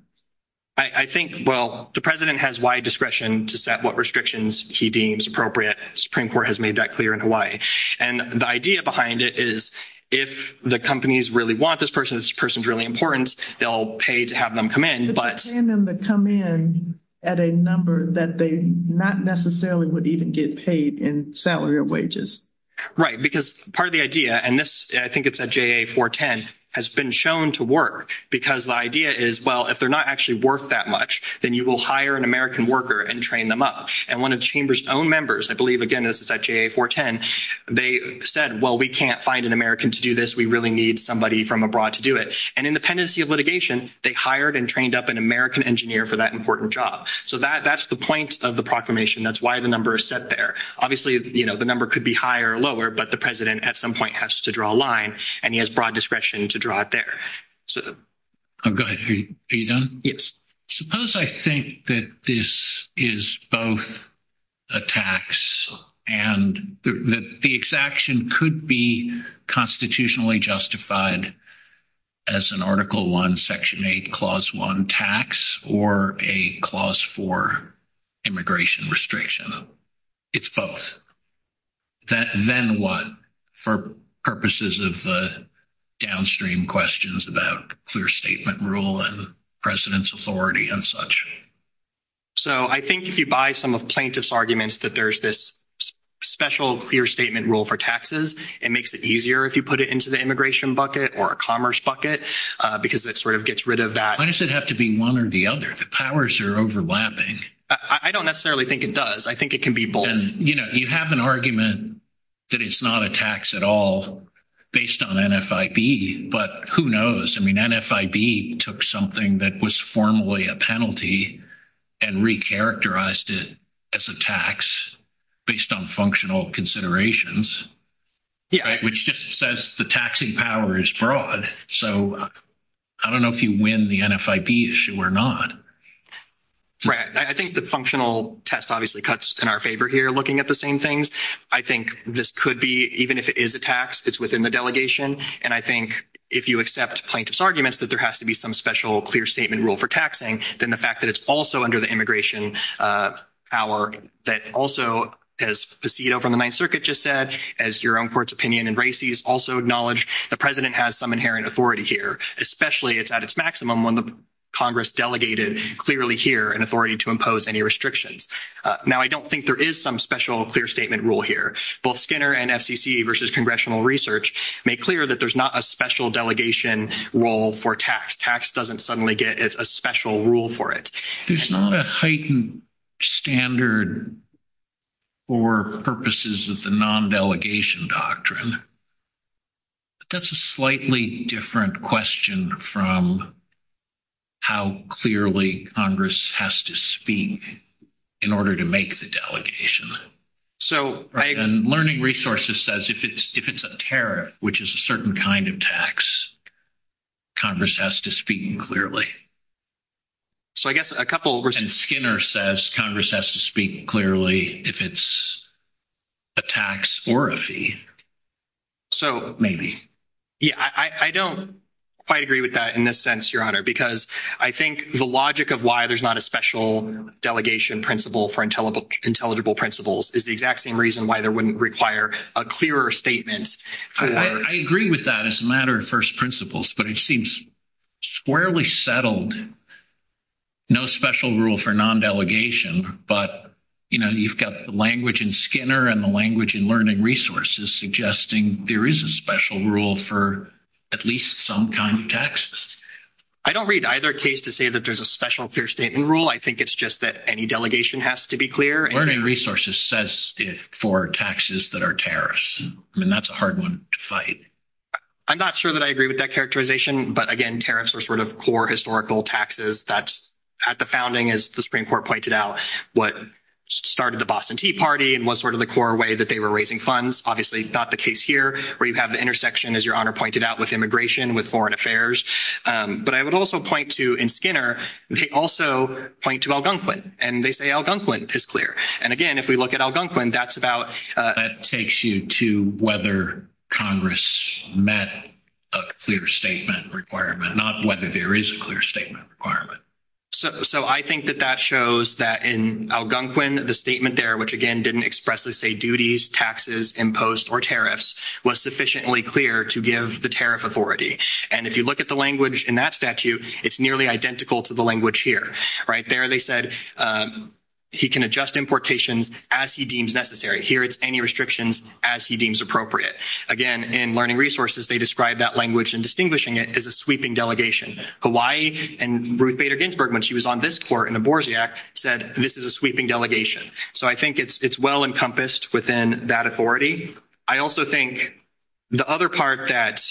I think, well, the President has wide discretion to set what restrictions he deems appropriate. Supreme Court has made that clear in Hawaii. And the idea behind it is, if the companies really want this person, this person's really important, they'll pay to have them come in, but— They're paying them to come in at a number that they not necessarily would even get paid in salary or wages. Right, because part of the idea, and this, I think it's at JA-410, has been shown to work, because the idea is, well, if they're not actually worth that much, then you will hire an American worker and train them up. And one of the Chamber's own members, I believe, again, this is at JA-410, they said, well, we can't find an American to do this. We really need somebody from abroad to do it. And in the tendency of litigation, they hired and trained up an American engineer for that important job. So that's the point of the proclamation. That's why the number is set there. Obviously, you know, the number could be higher or lower, but the president at some point has to draw a line, and he has broad discretion to draw it there. Oh, go ahead. Are you done? Yes. Suppose I think that this is both a tax and the exaction could be constitutionally justified as an Article I, Section 8, Clause 1 tax or a Clause 4 immigration restriction. It's both. Then what, for purposes of downstream questions about clear statement rule and president's authority and such? So I think if you buy some of plaintiff's arguments that there's this special clear statement rule for taxes, it makes it easier if you put it into the immigration bucket or a commerce bucket, because it sort of gets rid of that. Why does it have to be one or the other? The powers are overlapping. I don't necessarily think it does. I think it can be both. You know, you have an argument that it's not a tax at all based on NFIB, but who knows? I mean, NFIB took something that was formally a penalty and recharacterized it as a tax based on functional considerations, which just says the taxing power is broad. So I don't know if you win the NFIB issue or not. Right. I think the functional test obviously cuts in our favor here, looking at the same things. I think this could be, even if it is a tax, it's within the delegation. And I think if you accept plaintiff's arguments that there has to be some special clear statement rule for taxing, then the fact that it's also under the immigration power that also, as Facito from the Ninth Circuit just said, as your own court's opinion and Racy's also acknowledge, the president has some inherent authority here, especially it's at its maximum when the Congress delegated clearly here an authority to impose any restrictions. Now, I don't think there is some special clear statement rule here. Both Skinner and FCC versus Congressional Research make clear that there's not a special delegation rule for tax. Tax doesn't suddenly get a special rule for it. There's not a heightened standard for purposes of the non-delegation doctrine. But that's a slightly different question from how clearly Congress has to speak in order to make the delegation. Learning Resources says if it's a tariff, which is a certain kind of tax, Congress has to speak clearly. And Skinner says Congress has to speak clearly if it's a tax or a fee. Maybe. Yeah, I don't quite agree with that in this sense, Your Honor, because I think the logic of why there's not a special delegation principle for intelligible principles is the exact same reason why there wouldn't require a clearer statement. I agree with that as a matter of first principles, but it seems squarely settled. No special rule for non-delegation, but, you know, you've got the language in Skinner and the language in Learning Resources suggesting there is a special rule for at least some kind of taxes. I don't read either case to say that there's a special clear statement rule. I think it's just that any delegation has to be clear. Learning Resources says for taxes that are tariffs. I mean, that's a hard one to fight. I'm not sure that I agree with that characterization, but, again, tariffs are sort of core historical taxes. That's at the founding, as the Supreme Court pointed out, what started the Boston Tea Party and was sort of the core way that they were raising funds. Obviously, not the case here, where you have the intersection, as Your Honor pointed out, with immigration, with foreign affairs. But I would also point to, in Skinner, they also point to Algonquin, and they say Algonquin is clear. And, again, if we look at Algonquin, that's about... That takes you to whether Congress met a clear statement requirement, not whether there is a clear statement requirement. So I think that that shows that in Algonquin, the statement there, which, again, didn't expressly say duties, taxes, imposed or tariffs, was sufficiently clear to give the tariff authority. And if you look at the language in that statute, it's nearly identical to the language here. Right there, they said, he can adjust importation as he deems necessary. Here, it's any restrictions as he deems appropriate. Again, in Learning Resources, they describe that language and distinguishing it as a sweeping delegation. Hawaii and Ruth Bader Ginsburg, when she was on this court in the Boersiak, said this is a sweeping delegation. So I think it's well encompassed within that authority. I also think the other part that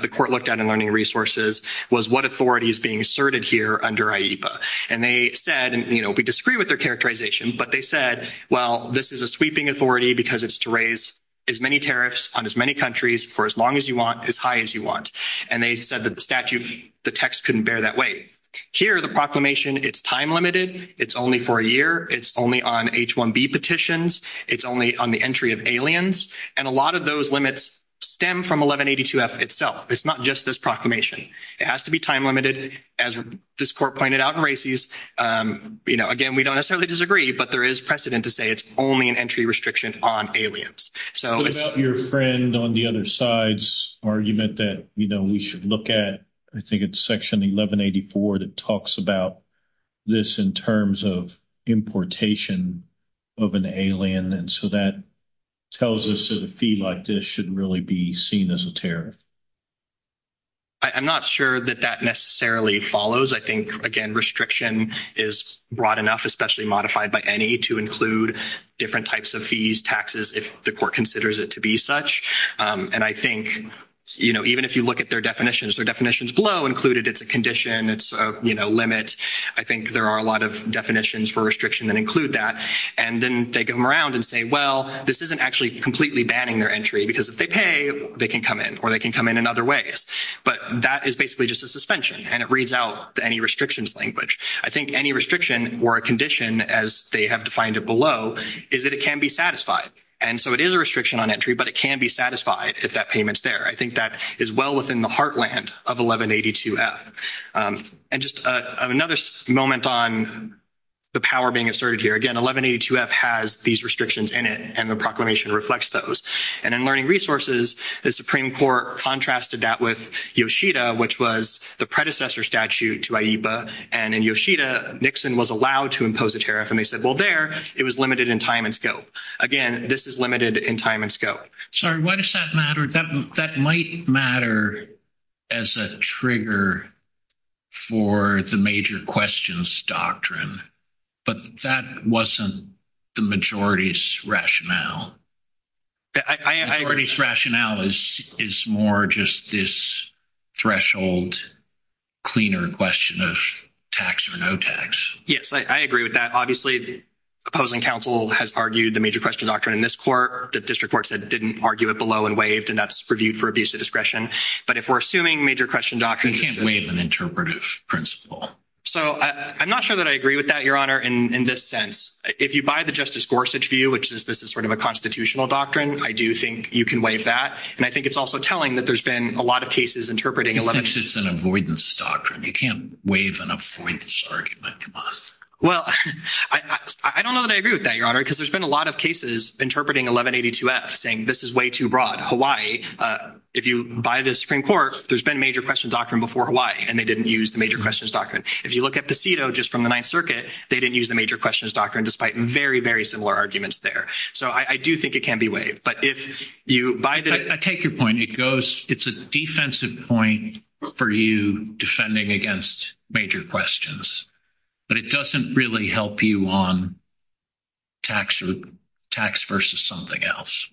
the court looked at in Learning Resources was what authority is being asserted here under IEBA. And they said, and we disagree with their characterization, but they said, well, this is a sweeping authority because it's to raise as many tariffs on as many countries for as long as you want, as high as you want. And they said that the statute, the text couldn't bear that weight. Here, the proclamation, it's time limited. It's only for a year. It's only on H-1B petitions. It's only on the entry of aliens. And a lot of those limits stem from 1182-F itself. It's not just this proclamation. It has to be time limited, as this court pointed out in Racy's. Again, we don't necessarily disagree, but there is precedent to say it's only an entry restriction on aliens. So it's- What about your friend on the other side's argument that we should look at, I think it's section 1184 that talks about this in terms of importation of an alien. And so that tells us that a fee like this should really be seen as a tariff. I'm not sure that that necessarily follows. I think, again, restriction is broad enough, especially modified by any, to include different types of fees, taxes, if the court considers it to be such. And I think, you know, even if you look at their definitions, their definitions below included, it's a condition, it's a, you know, limit. I think there are a lot of definitions for restriction that include that. And then take them around and say, well, this isn't actually completely banning their entry because if they pay, they can come in or they can come in other ways. But that is basically just a suspension and it reads out any restrictions language. I think any restriction or a condition, as they have defined it below, is that it can be satisfied. And so it is a restriction on entry, but it can be satisfied if that payment's there. I think that is well within the heartland of 1182-F. And just another moment on the power being asserted here. Again, 1182-F has these restrictions in it and the proclamation reflects those. And in learning resources, the Supreme Court contrasted that with Yoshida, which was the predecessor statute to IEBA. And in Yoshida, Nixon was allowed to impose a tariff and they said, well, there, it was limited in time and scope. Again, this is limited in time and scope. Sorry, why does that matter? That might matter as a trigger for the major questions doctrine, but that wasn't the majority's rationale. The majority's rationale is more just this threshold cleaner question of tax or no tax. Yes, I agree with that. Obviously, the opposing counsel has argued the major question doctrine in this court. The district court said it didn't argue it below and waived and that's reviewed for abuse of discretion. But if we're assuming major question doctrine- We can't waive an interpretive principle. So I'm not sure that I agree with that, Your Honor, in this sense. If you buy the Justice Constitutional Doctrine, I do think you can waive that. And I think it's also telling that there's been a lot of cases interpreting- This is an avoidance doctrine. You can't waive an avoidance doctrine. Well, I don't know that I agree with that, Your Honor, because there's been a lot of cases interpreting 1182F saying this is way too broad. Hawaii, if you buy the Supreme Court, there's been a major question doctrine before Hawaii and they didn't use the major questions doctrine. If you look at the CEDAW just from the Ninth Circuit, they didn't use the major arguments there. So I do think it can be waived. But if you buy the- I take your point. It's a defensive point for you defending against major questions, but it doesn't really help you on tax versus something else.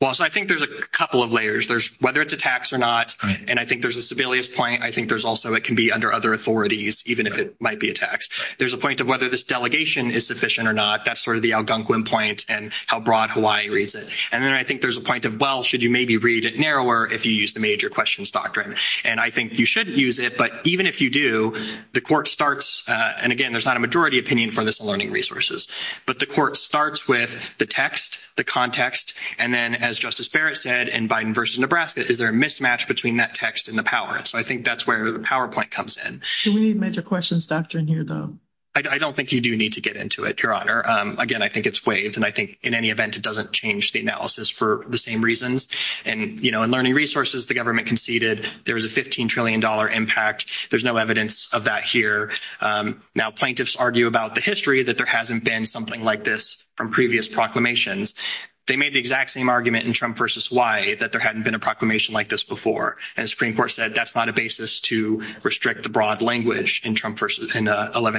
Well, so I think there's a couple of layers. Whether it's a tax or not, and I think there's a Sebelius point. I think there's also it can be under other authorities, even if it might be a tax. There's a point of whether this delegation is sufficient or not. That's sort of the Algonquin point and how broad Hawaii reads it. And then I think there's a point of, well, should you maybe read it narrower if you use the major questions doctrine? And I think you shouldn't use it, but even if you do, the court starts- and again, there's not a majority opinion for this in learning resources- but the court starts with the text, the context, and then as Justice Barrett said in Biden versus Nebraska, is there a mismatch between that text and the power? So I think that's where the PowerPoint comes in. Is there any major questions doctrine here, though? I don't think you do need to get into it, Your Honor. Again, I think it's waived. And I think in any event, it doesn't change the analysis for the same reasons. And, you know, in learning resources, the government conceded there was a $15 trillion impact. There's no evidence of that here. Now, plaintiffs argue about the history that there hasn't been something like this from previous proclamations. They made the exact same argument in Trump versus why, that there hadn't been a proclamation like this before. And the Supreme Court said that's not a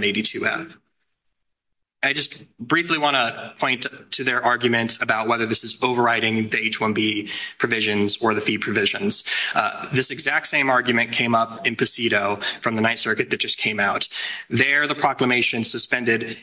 D2M. I just briefly want to point to their argument about whether this is overriding the H-1B provisions or the fee provisions. This exact same argument came up in Posito from the Ninth Circuit that just came out. There, the proclamation suspended,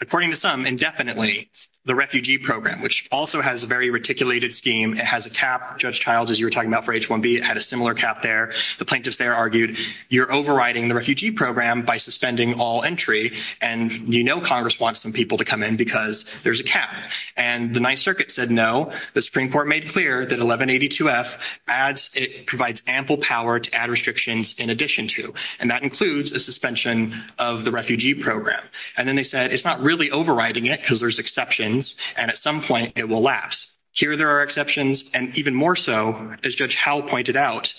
according to some, indefinitely, the refugee program, which also has a very reticulated scheme. It has a cap. Judge Childs, as you were talking about for H-1B, had a similar cap there. The plaintiffs argued you're overriding the refugee program by suspending all entry. And you know Congress wants some people to come in because there's a cap. And the Ninth Circuit said no. The Supreme Court made clear that 1182F provides ample power to add restrictions in addition to. And that includes a suspension of the refugee program. And then they said it's not really overriding it because there's exceptions. And at some point, it will lapse. Here, there are exceptions. And even more so, as Judge Howell pointed out,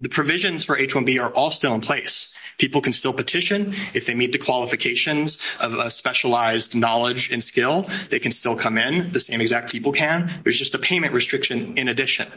the provisions for H-1B are all still in place. People can still petition. If they meet the qualifications of a specialized knowledge and skill, they can still come in. The same exact people can. There's just a payment restriction in addition.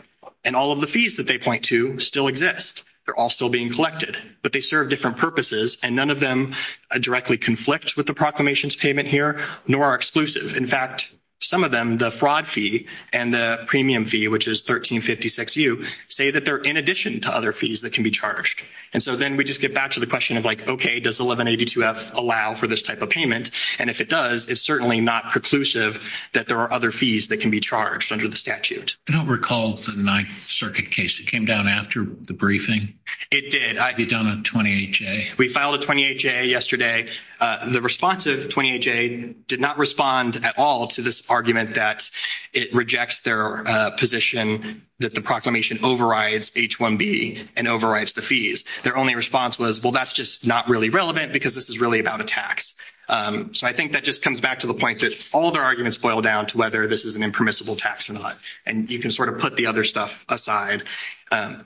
And all of the fees that they point to still exist. They're all still being collected. But they serve different purposes. And none of them directly conflict with the proclamation's payment here, nor are In fact, some of them, the fraud fee and the premium fee, which is 1356U, say that they're in addition to other fees that can be charged. And so then we just get back to the question of like, okay, does 1182F allow for this type of payment? And if it does, it's certainly not preclusive that there are other fees that can be charged under the statute. I don't recall the Ninth Circuit case that came down after the briefing. It did. It came down on 28-J. We filed a 28-J yesterday. The response of 28-J did not respond at all to this argument that it rejects their position that the proclamation overrides H-1B and overrides the fees. Their only response was, well, that's just not really relevant because this is really about a tax. So I think that just comes back to the point that all their arguments boil down to whether this is an impermissible tax or not. And you can sort of put the other stuff aside. And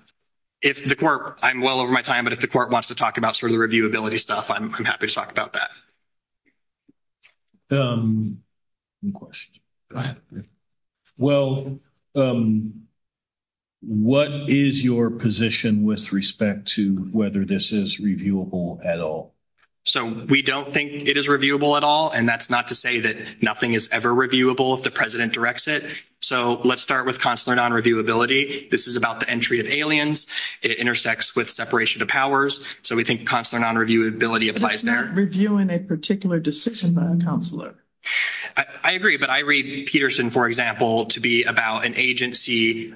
if the court, I'm well over my time, but if the court wants to talk about sort of the reviewability stuff, I'm happy to talk about that. Any questions? Go ahead. Well, what is your position with respect to whether this is reviewable at all? So we don't think it is reviewable at all. And that's not to say that nothing is ever reviewable if the president directs it. So let's start with consular non-reviewability. This is about the entry of aliens. It intersects with separation of powers. So we think consular non-reviewability applies there. Reviewing a particular decision by a consular. I agree. But I read Peterson, for example, to be about an agency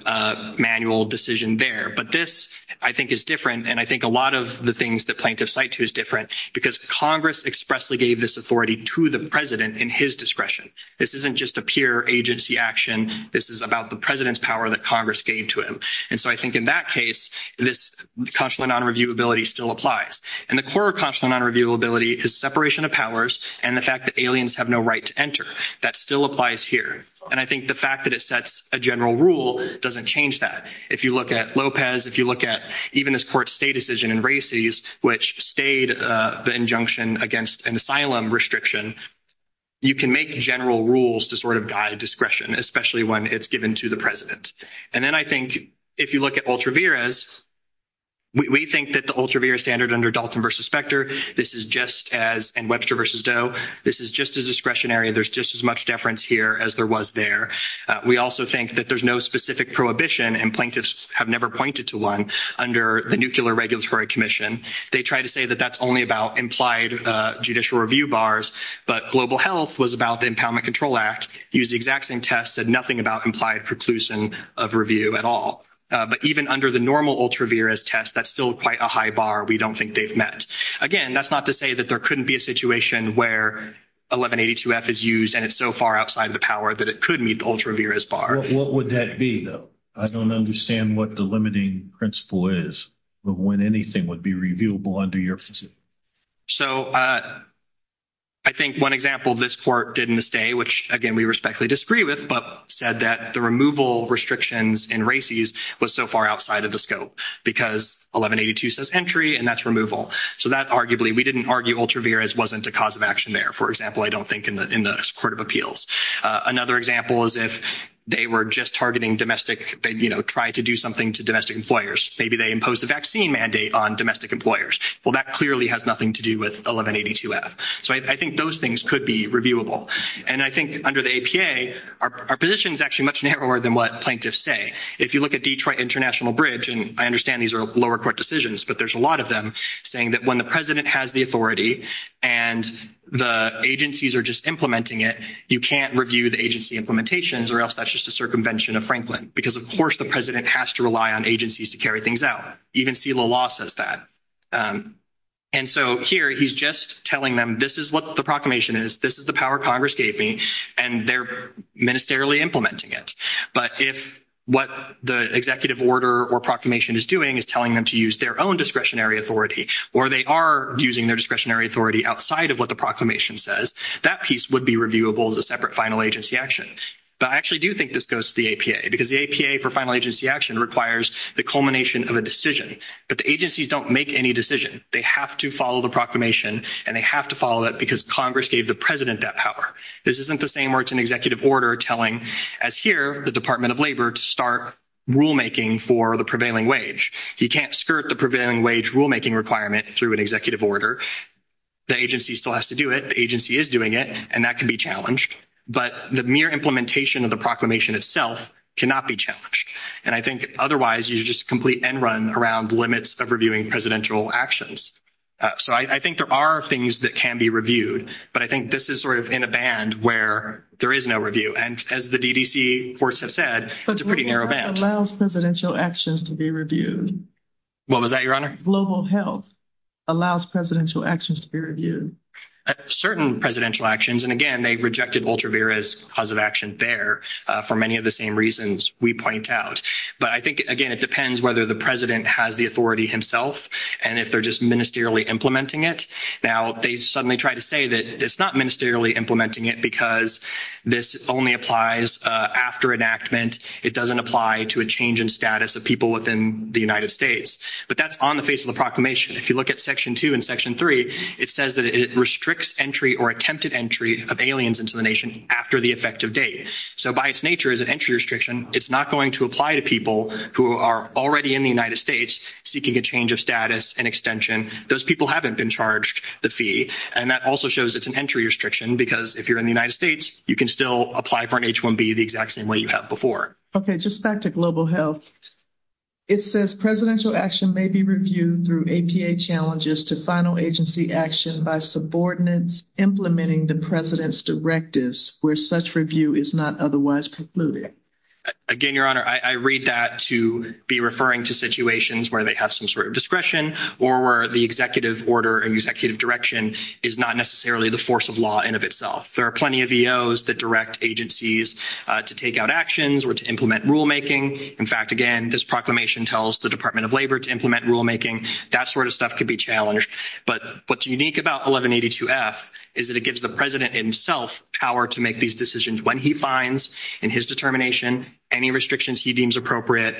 manual decision there. But this, I think, is different. And I think a lot of the things that plaintiffs cite to is different because Congress expressly gave this authority to the president in his discretion. This isn't just a peer agency action. This is about the president's power that Congress gave to him. And so I think in that case, this consular non-reviewability still applies. And the core consular non-reviewability is separation of powers and the fact that aliens have no right to enter. That still applies here. And I think the fact that it sets a general rule doesn't change that. If you look at Lopez, if you look at even this court's stay decision in Bracey's, which stayed the injunction against an asylum restriction, you can make general rules to sort of guide discretion, especially when it's given to the president. And then I think if you look at Ultravirez, we think that the Ultravirez standard under Dalton v. Specter, this is just as, and Webster v. Doe, this is just as discretionary. There's just as much deference here as there was there. We also think that there's no specific prohibition, and plaintiffs have never pointed to one, under the Nuclear Regulatory Commission. They try to say that that's only about implied judicial review bars, but Global Health was about the Impoundment Control Act, used the exact same test, said nothing about implied preclusion of review at all. But even under the normal Ultravirez test, that's still quite a high bar we don't think they've met. Again, that's not to say that there couldn't be a situation where 1182F is used and it's so far outside the power that it could meet the Ultravirez bar. What would that be, though? I don't understand what the limiting principle is of when anything would be reviewable under your position. So I think one example this court did in this day, which again we respectfully disagree with, but said that the removal restrictions in RACIs was so far outside of the scope, because 1182 says entry and that's removal. So that arguably, we didn't argue Ultravirez wasn't a cause of action there, for example, I don't think in the Court of Appeals. Another example is if they were just targeting domestic, you know, trying to do something to domestic employers. Maybe they imposed a vaccine mandate on domestic employers. Well, that clearly has nothing to do with 1182F. So I think those things could be reviewable. And I think under the APA, our position is actually much narrower than what plaintiffs say. If you look at Detroit International Bridge, and I understand these are lower court decisions, but there's a lot of them saying that when the president has the authority and the agencies are just implementing it, you can't review the agency implementations or else that's just a circumvention of Franklin. Because, of course, the president has to rely on agencies to carry things out. Even Selah Law says that. And so here, he's just telling them this is what the proclamation is, this is the power Congress gave me, and they're ministerially implementing it. But if what the executive order or proclamation is doing is telling them to use their own discretionary authority, or they are using their discretionary authority outside of what the proclamation says, that piece would be reviewable as a separate final agency action. But I actually do think this goes to the APA, because the APA for final agency action requires the culmination of a decision. But the agencies don't make any decisions. They have to follow the proclamation, and they have to follow it because Congress gave the president that power. This isn't the same where it's an executive order telling, as here, the Department of Labor to start rulemaking for the prevailing wage. You can't skirt the prevailing wage rulemaking requirement through an executive order. The agency still has to do it. The agency is doing it, and that can be challenged. But the mere implementation of proclamation itself cannot be challenged. And I think, otherwise, you just complete end-run around limits of reviewing presidential actions. So I think there are things that can be reviewed, but I think this is sort of in a band where there is no review. And as the DDC courts have said, it's a pretty narrow band. But what about allows presidential actions to be reviewed? What was that, Your Honor? Global health allows presidential actions to be reviewed. Certain presidential actions, and again, they rejected Voltervera's cause of action there for many of the same reasons we point out. But I think, again, it depends whether the president has the authority himself and if they're just ministerially implementing it. Now, they suddenly try to say that it's not ministerially implementing it because this only applies after enactment. It doesn't apply to a change in status of people within the United States. But that's on the face of the proclamation. If you look at Section 2 and 3, it says that it restricts entry or attempted entry of aliens into the nation after the effective date. So by its nature, it's an entry restriction. It's not going to apply to people who are already in the United States seeking a change of status and extension. Those people haven't been charged the fee. And that also shows it's an entry restriction because if you're in the United States, you can still apply for an H-1B the exact same way you have before. Okay. Just back to global health. It says presidential action may be reviewed through APA challenges to final agency action by subordinates implementing the president's directives where such review is not otherwise precluded. Again, Your Honor, I read that to be referring to situations where they have some sort of discretion or where the executive order and executive direction is not necessarily the force of law in and of itself. There are plenty of EOs that direct agencies to take out actions or to implement rulemaking. In fact, again, this proclamation tells the Department of Labor to implement rulemaking. That sort of stuff could be challenged. But what's unique about 1182-F is that it gives the president himself power to make these decisions when he finds in his determination any restrictions he deems appropriate.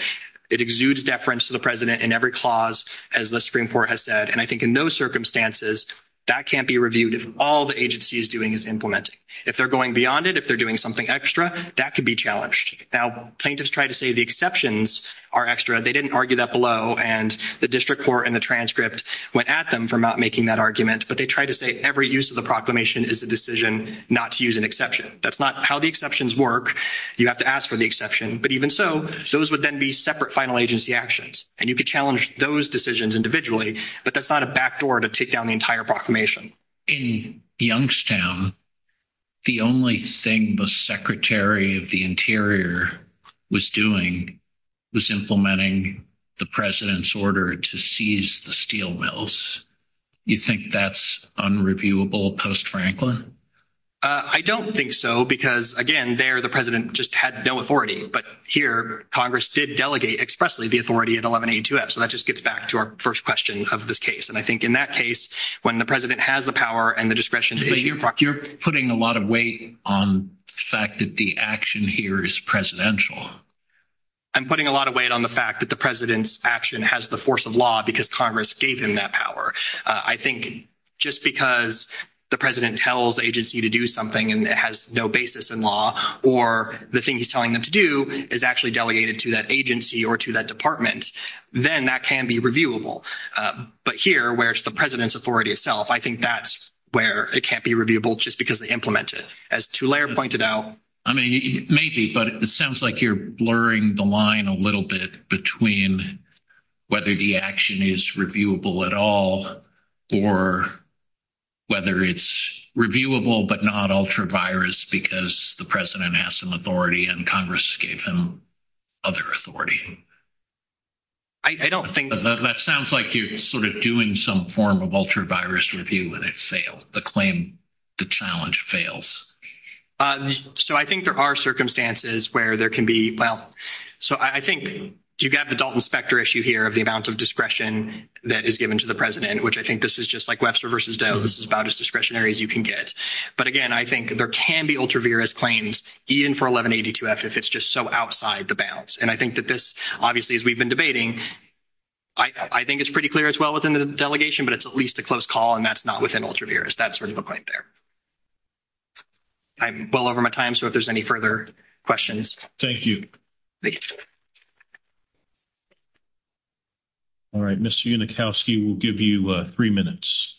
It exudes deference to the president in every clause, as the Supreme Court has said. And I think in those circumstances, that can't be reviewed if all the agency is doing is implementing. If they're going beyond it, if they're doing something extra, that could be challenged. Now, plaintiffs tried to say exceptions are extra. They didn't argue that below. And the district court in the transcript went at them for not making that argument. But they tried to say every use of the proclamation is a decision not to use an exception. That's not how the exceptions work. You have to ask for the exception. But even so, those would then be separate final agency actions. And you could challenge those decisions individually. But that's not a backdoor to take down the entire proclamation. In Youngstown, the only thing the Secretary of the Interior was doing was implementing the president's order to seize the steel mills. You think that's unreviewable post-Franklin? I don't think so. Because again, there, the president just had no authority. But here, Congress did delegate expressly the authority of 1182-F. So that just gets back to our first question of this case. And I think in that case, when the president has the power and the discretion... You're putting a lot of weight on the fact that the action here is presidential. I'm putting a lot of weight on the fact that the president's action has the force of law because Congress gave him that power. I think just because the president tells the agency to do something and it has no basis in law, or the thing he's telling them to do is actually that agency or to that department, then that can be reviewable. But here, where it's the president's authority itself, I think that's where it can't be reviewable just because they implement it. As Tulare pointed out... I mean, maybe, but it sounds like you're blurring the line a little bit between whether the action is reviewable at all or whether it's reviewable but not ultra-virus because the president has some authority and Congress has given him other authority. That sounds like you're sort of doing some form of ultra-virus review and it failed. The claim, the challenge fails. So I think there are circumstances where there can be... Well, so I think you've got the Dalton Specter issue here of the amount of discretion that is given to the president, which I think this is just like Webster versus Doe. This is about as discretionary as you can get. But again, I think there can be ultra-virus claims even for 1182-F if it's just so outside the bounds. And I think that this, obviously, as we've been debating, I think it's pretty clear as well within the delegation, but it's at least a close call and that's not within ultra-virus. That's really the point there. I'm well over my time, so if there's any further questions... Thank you. All right. Mr. Unikowski, we'll give you three minutes.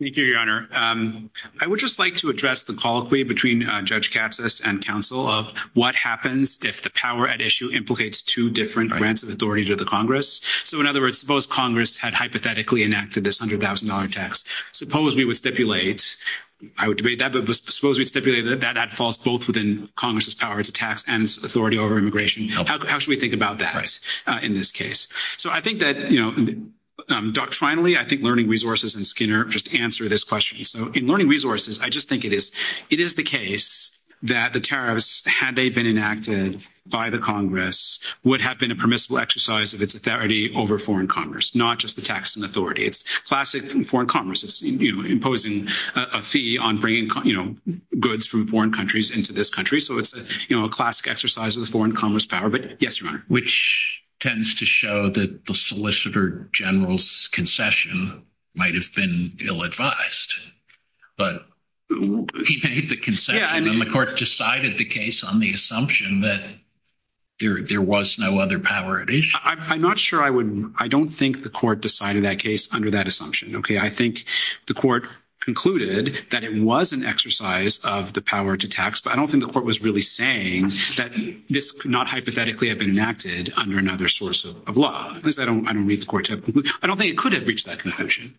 Thank you, Your Honor. I would just like to address the colloquy between Judge Katsas and counsel of what happens if the power at issue implicates two different grants of authority to the Congress. So in other words, suppose Congress had hypothetically enacted this $100,000 tax. Suppose we would stipulate, I would debate that, but suppose we stipulate that that falls both within Congress's power to tax and authority over immigration. How should we think about that in this case? So I think that doctrinally, I think learning resources and Skinner just answer this question. So in learning resources, I just think it is the case that the tariffs, had they been enacted by the Congress, would have been a permissible exercise of its authority over foreign Congress, not just the tax and authority. It's classic foreign Congress imposing a fee on bringing goods from foreign countries into this country. So it's a classic exercise of the foreign Congress power, but yes, Your Honor. Which tends to show that the solicitor general's concession might've been ill-advised, but he made the concession and the court decided the case on the assumption that there was no other power at issue. I'm not sure I would, I don't think the court decided that case under that assumption. Okay. I think the court concluded that it was an exercise of the power to tax, but I don't think the court was really saying that this could not hypothetically have been enacted under another source of law. At least I don't read the court. I don't think it could have reached that conclusion.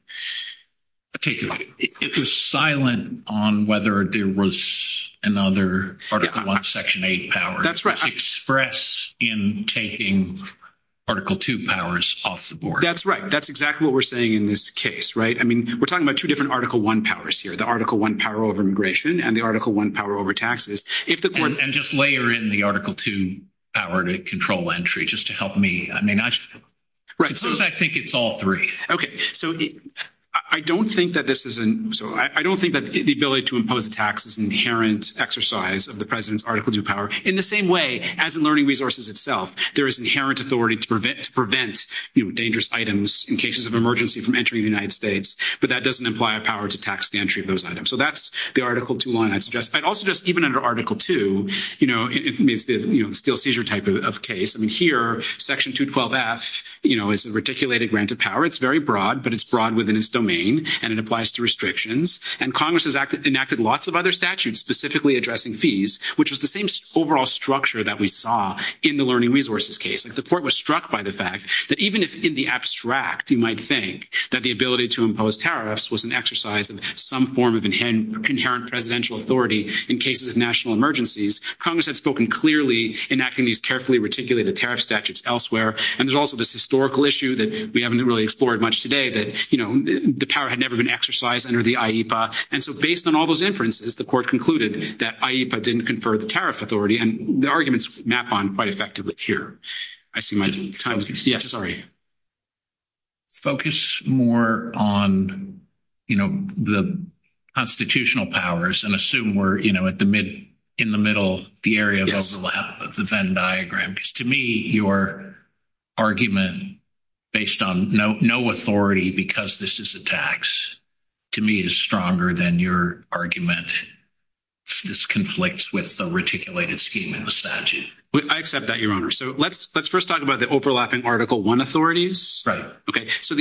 It was silent on whether there was another article one, section eight power to express in taking article two powers off the board. That's right. That's exactly what we're saying in this case, right? I mean, we're talking about different article one powers here, the article one power over immigration and the article one power over taxes. And just layer in the article two power to control entry, just to help me, I mean, I think it's all three. Okay. So I don't think that this is, so I don't think that the ability to impose taxes inherent exercise of the president's article two power in the same way as in learning resources itself, there is inherent authority to prevent, you know, dangerous items in cases of emergency from entering the United States, but that doesn't imply a power to tax the entry of those items. So that's the article two one I'd suggest. I'd also just, even under article two, you know, it's still seizure type of case. I mean, here, section 212F, you know, it's a reticulated granted power. It's very broad, but it's broad within its domain and it applies to restrictions. And Congress has enacted lots of other statutes specifically addressing fees, which was the same overall structure that we saw in the learning resources case. The court was struck by the fact that even if in the abstract, you might think that the ability to impose tariffs was an exercise of some form of inherent presidential authority in cases of national emergencies, Congress had spoken clearly enacting these carefully reticulated tariff statutes elsewhere. And there's also this historical issue that we haven't really explored much today that, you know, the power had never been exercised under the IEPA. And so based on all those inferences, the court concluded that IEPA didn't confer the tariff authority and the arguments map on quite effectively here. I see my time. Yes, sorry. Focus more on, you know, the constitutional powers and assume we're, you know, at the mid, in the middle, the area of the Venn diagram. Because to me, your argument based on no authority because this is a tax, to me is stronger than your argument. This conflicts with the reticulated scheme and the statute. I accept that, your Honor. So let's first talk about the overlapping Article I authorities. Right. Okay. So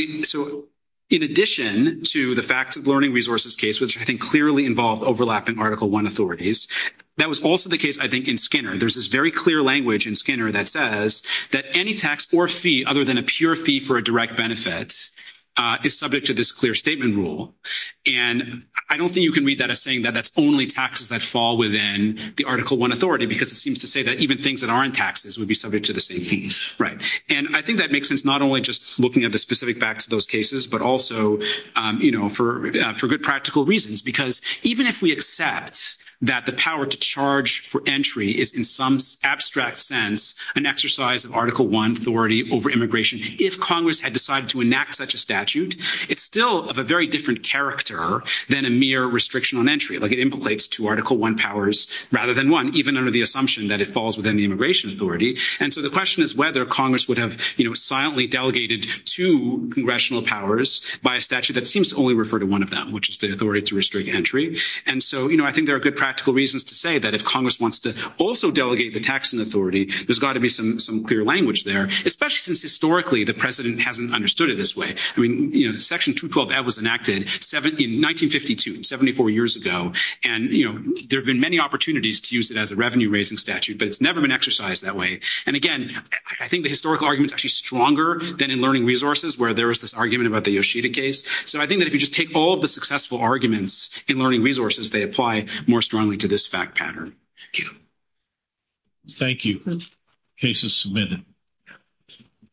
in addition to the fact that learning resources case, which I think clearly involved overlapping Article I authorities, that was also the case, I think, in Skinner. There's this very clear language in Skinner that says that any tax or fee other than a pure fee for a direct benefit is subject to this clear statement rule. And I don't think you can read that as saying that that's only taxes that fall within the Article I authority, because it seems to say that even things that aren't taxes would be subject to the same fee. Right. And I think that makes sense, not only just looking at the specific facts of those cases, but also, you know, for good practical reasons. Because even if we accept that the power to charge for entry is in some abstract sense, an exercise of Article I authority over immigration, if Congress had decided to enact such a statute, it's still of a very different character than a Article I powers, rather than one, even under the assumption that it falls within the immigration authority. And so the question is whether Congress would have, you know, silently delegated to congressional powers by a statute that seems to only refer to one of them, which is the authority to restrict entry. And so, you know, I think there are good practical reasons to say that if Congress wants to also delegate the taxing authority, there's got to be some clear language there, especially since historically, the President hasn't understood it this way. I mean, you know, was enacted in 1952, 74 years ago. And, you know, there have been many opportunities to use it as a revenue-raising statute, but it's never been exercised that way. And again, I think the historical argument is actually stronger than in learning resources, where there was this argument about the Yoshida case. So I think that if you just take all the successful arguments in learning resources, they apply more strongly to this fact pattern. Thank you. Thank you. Case is submitted.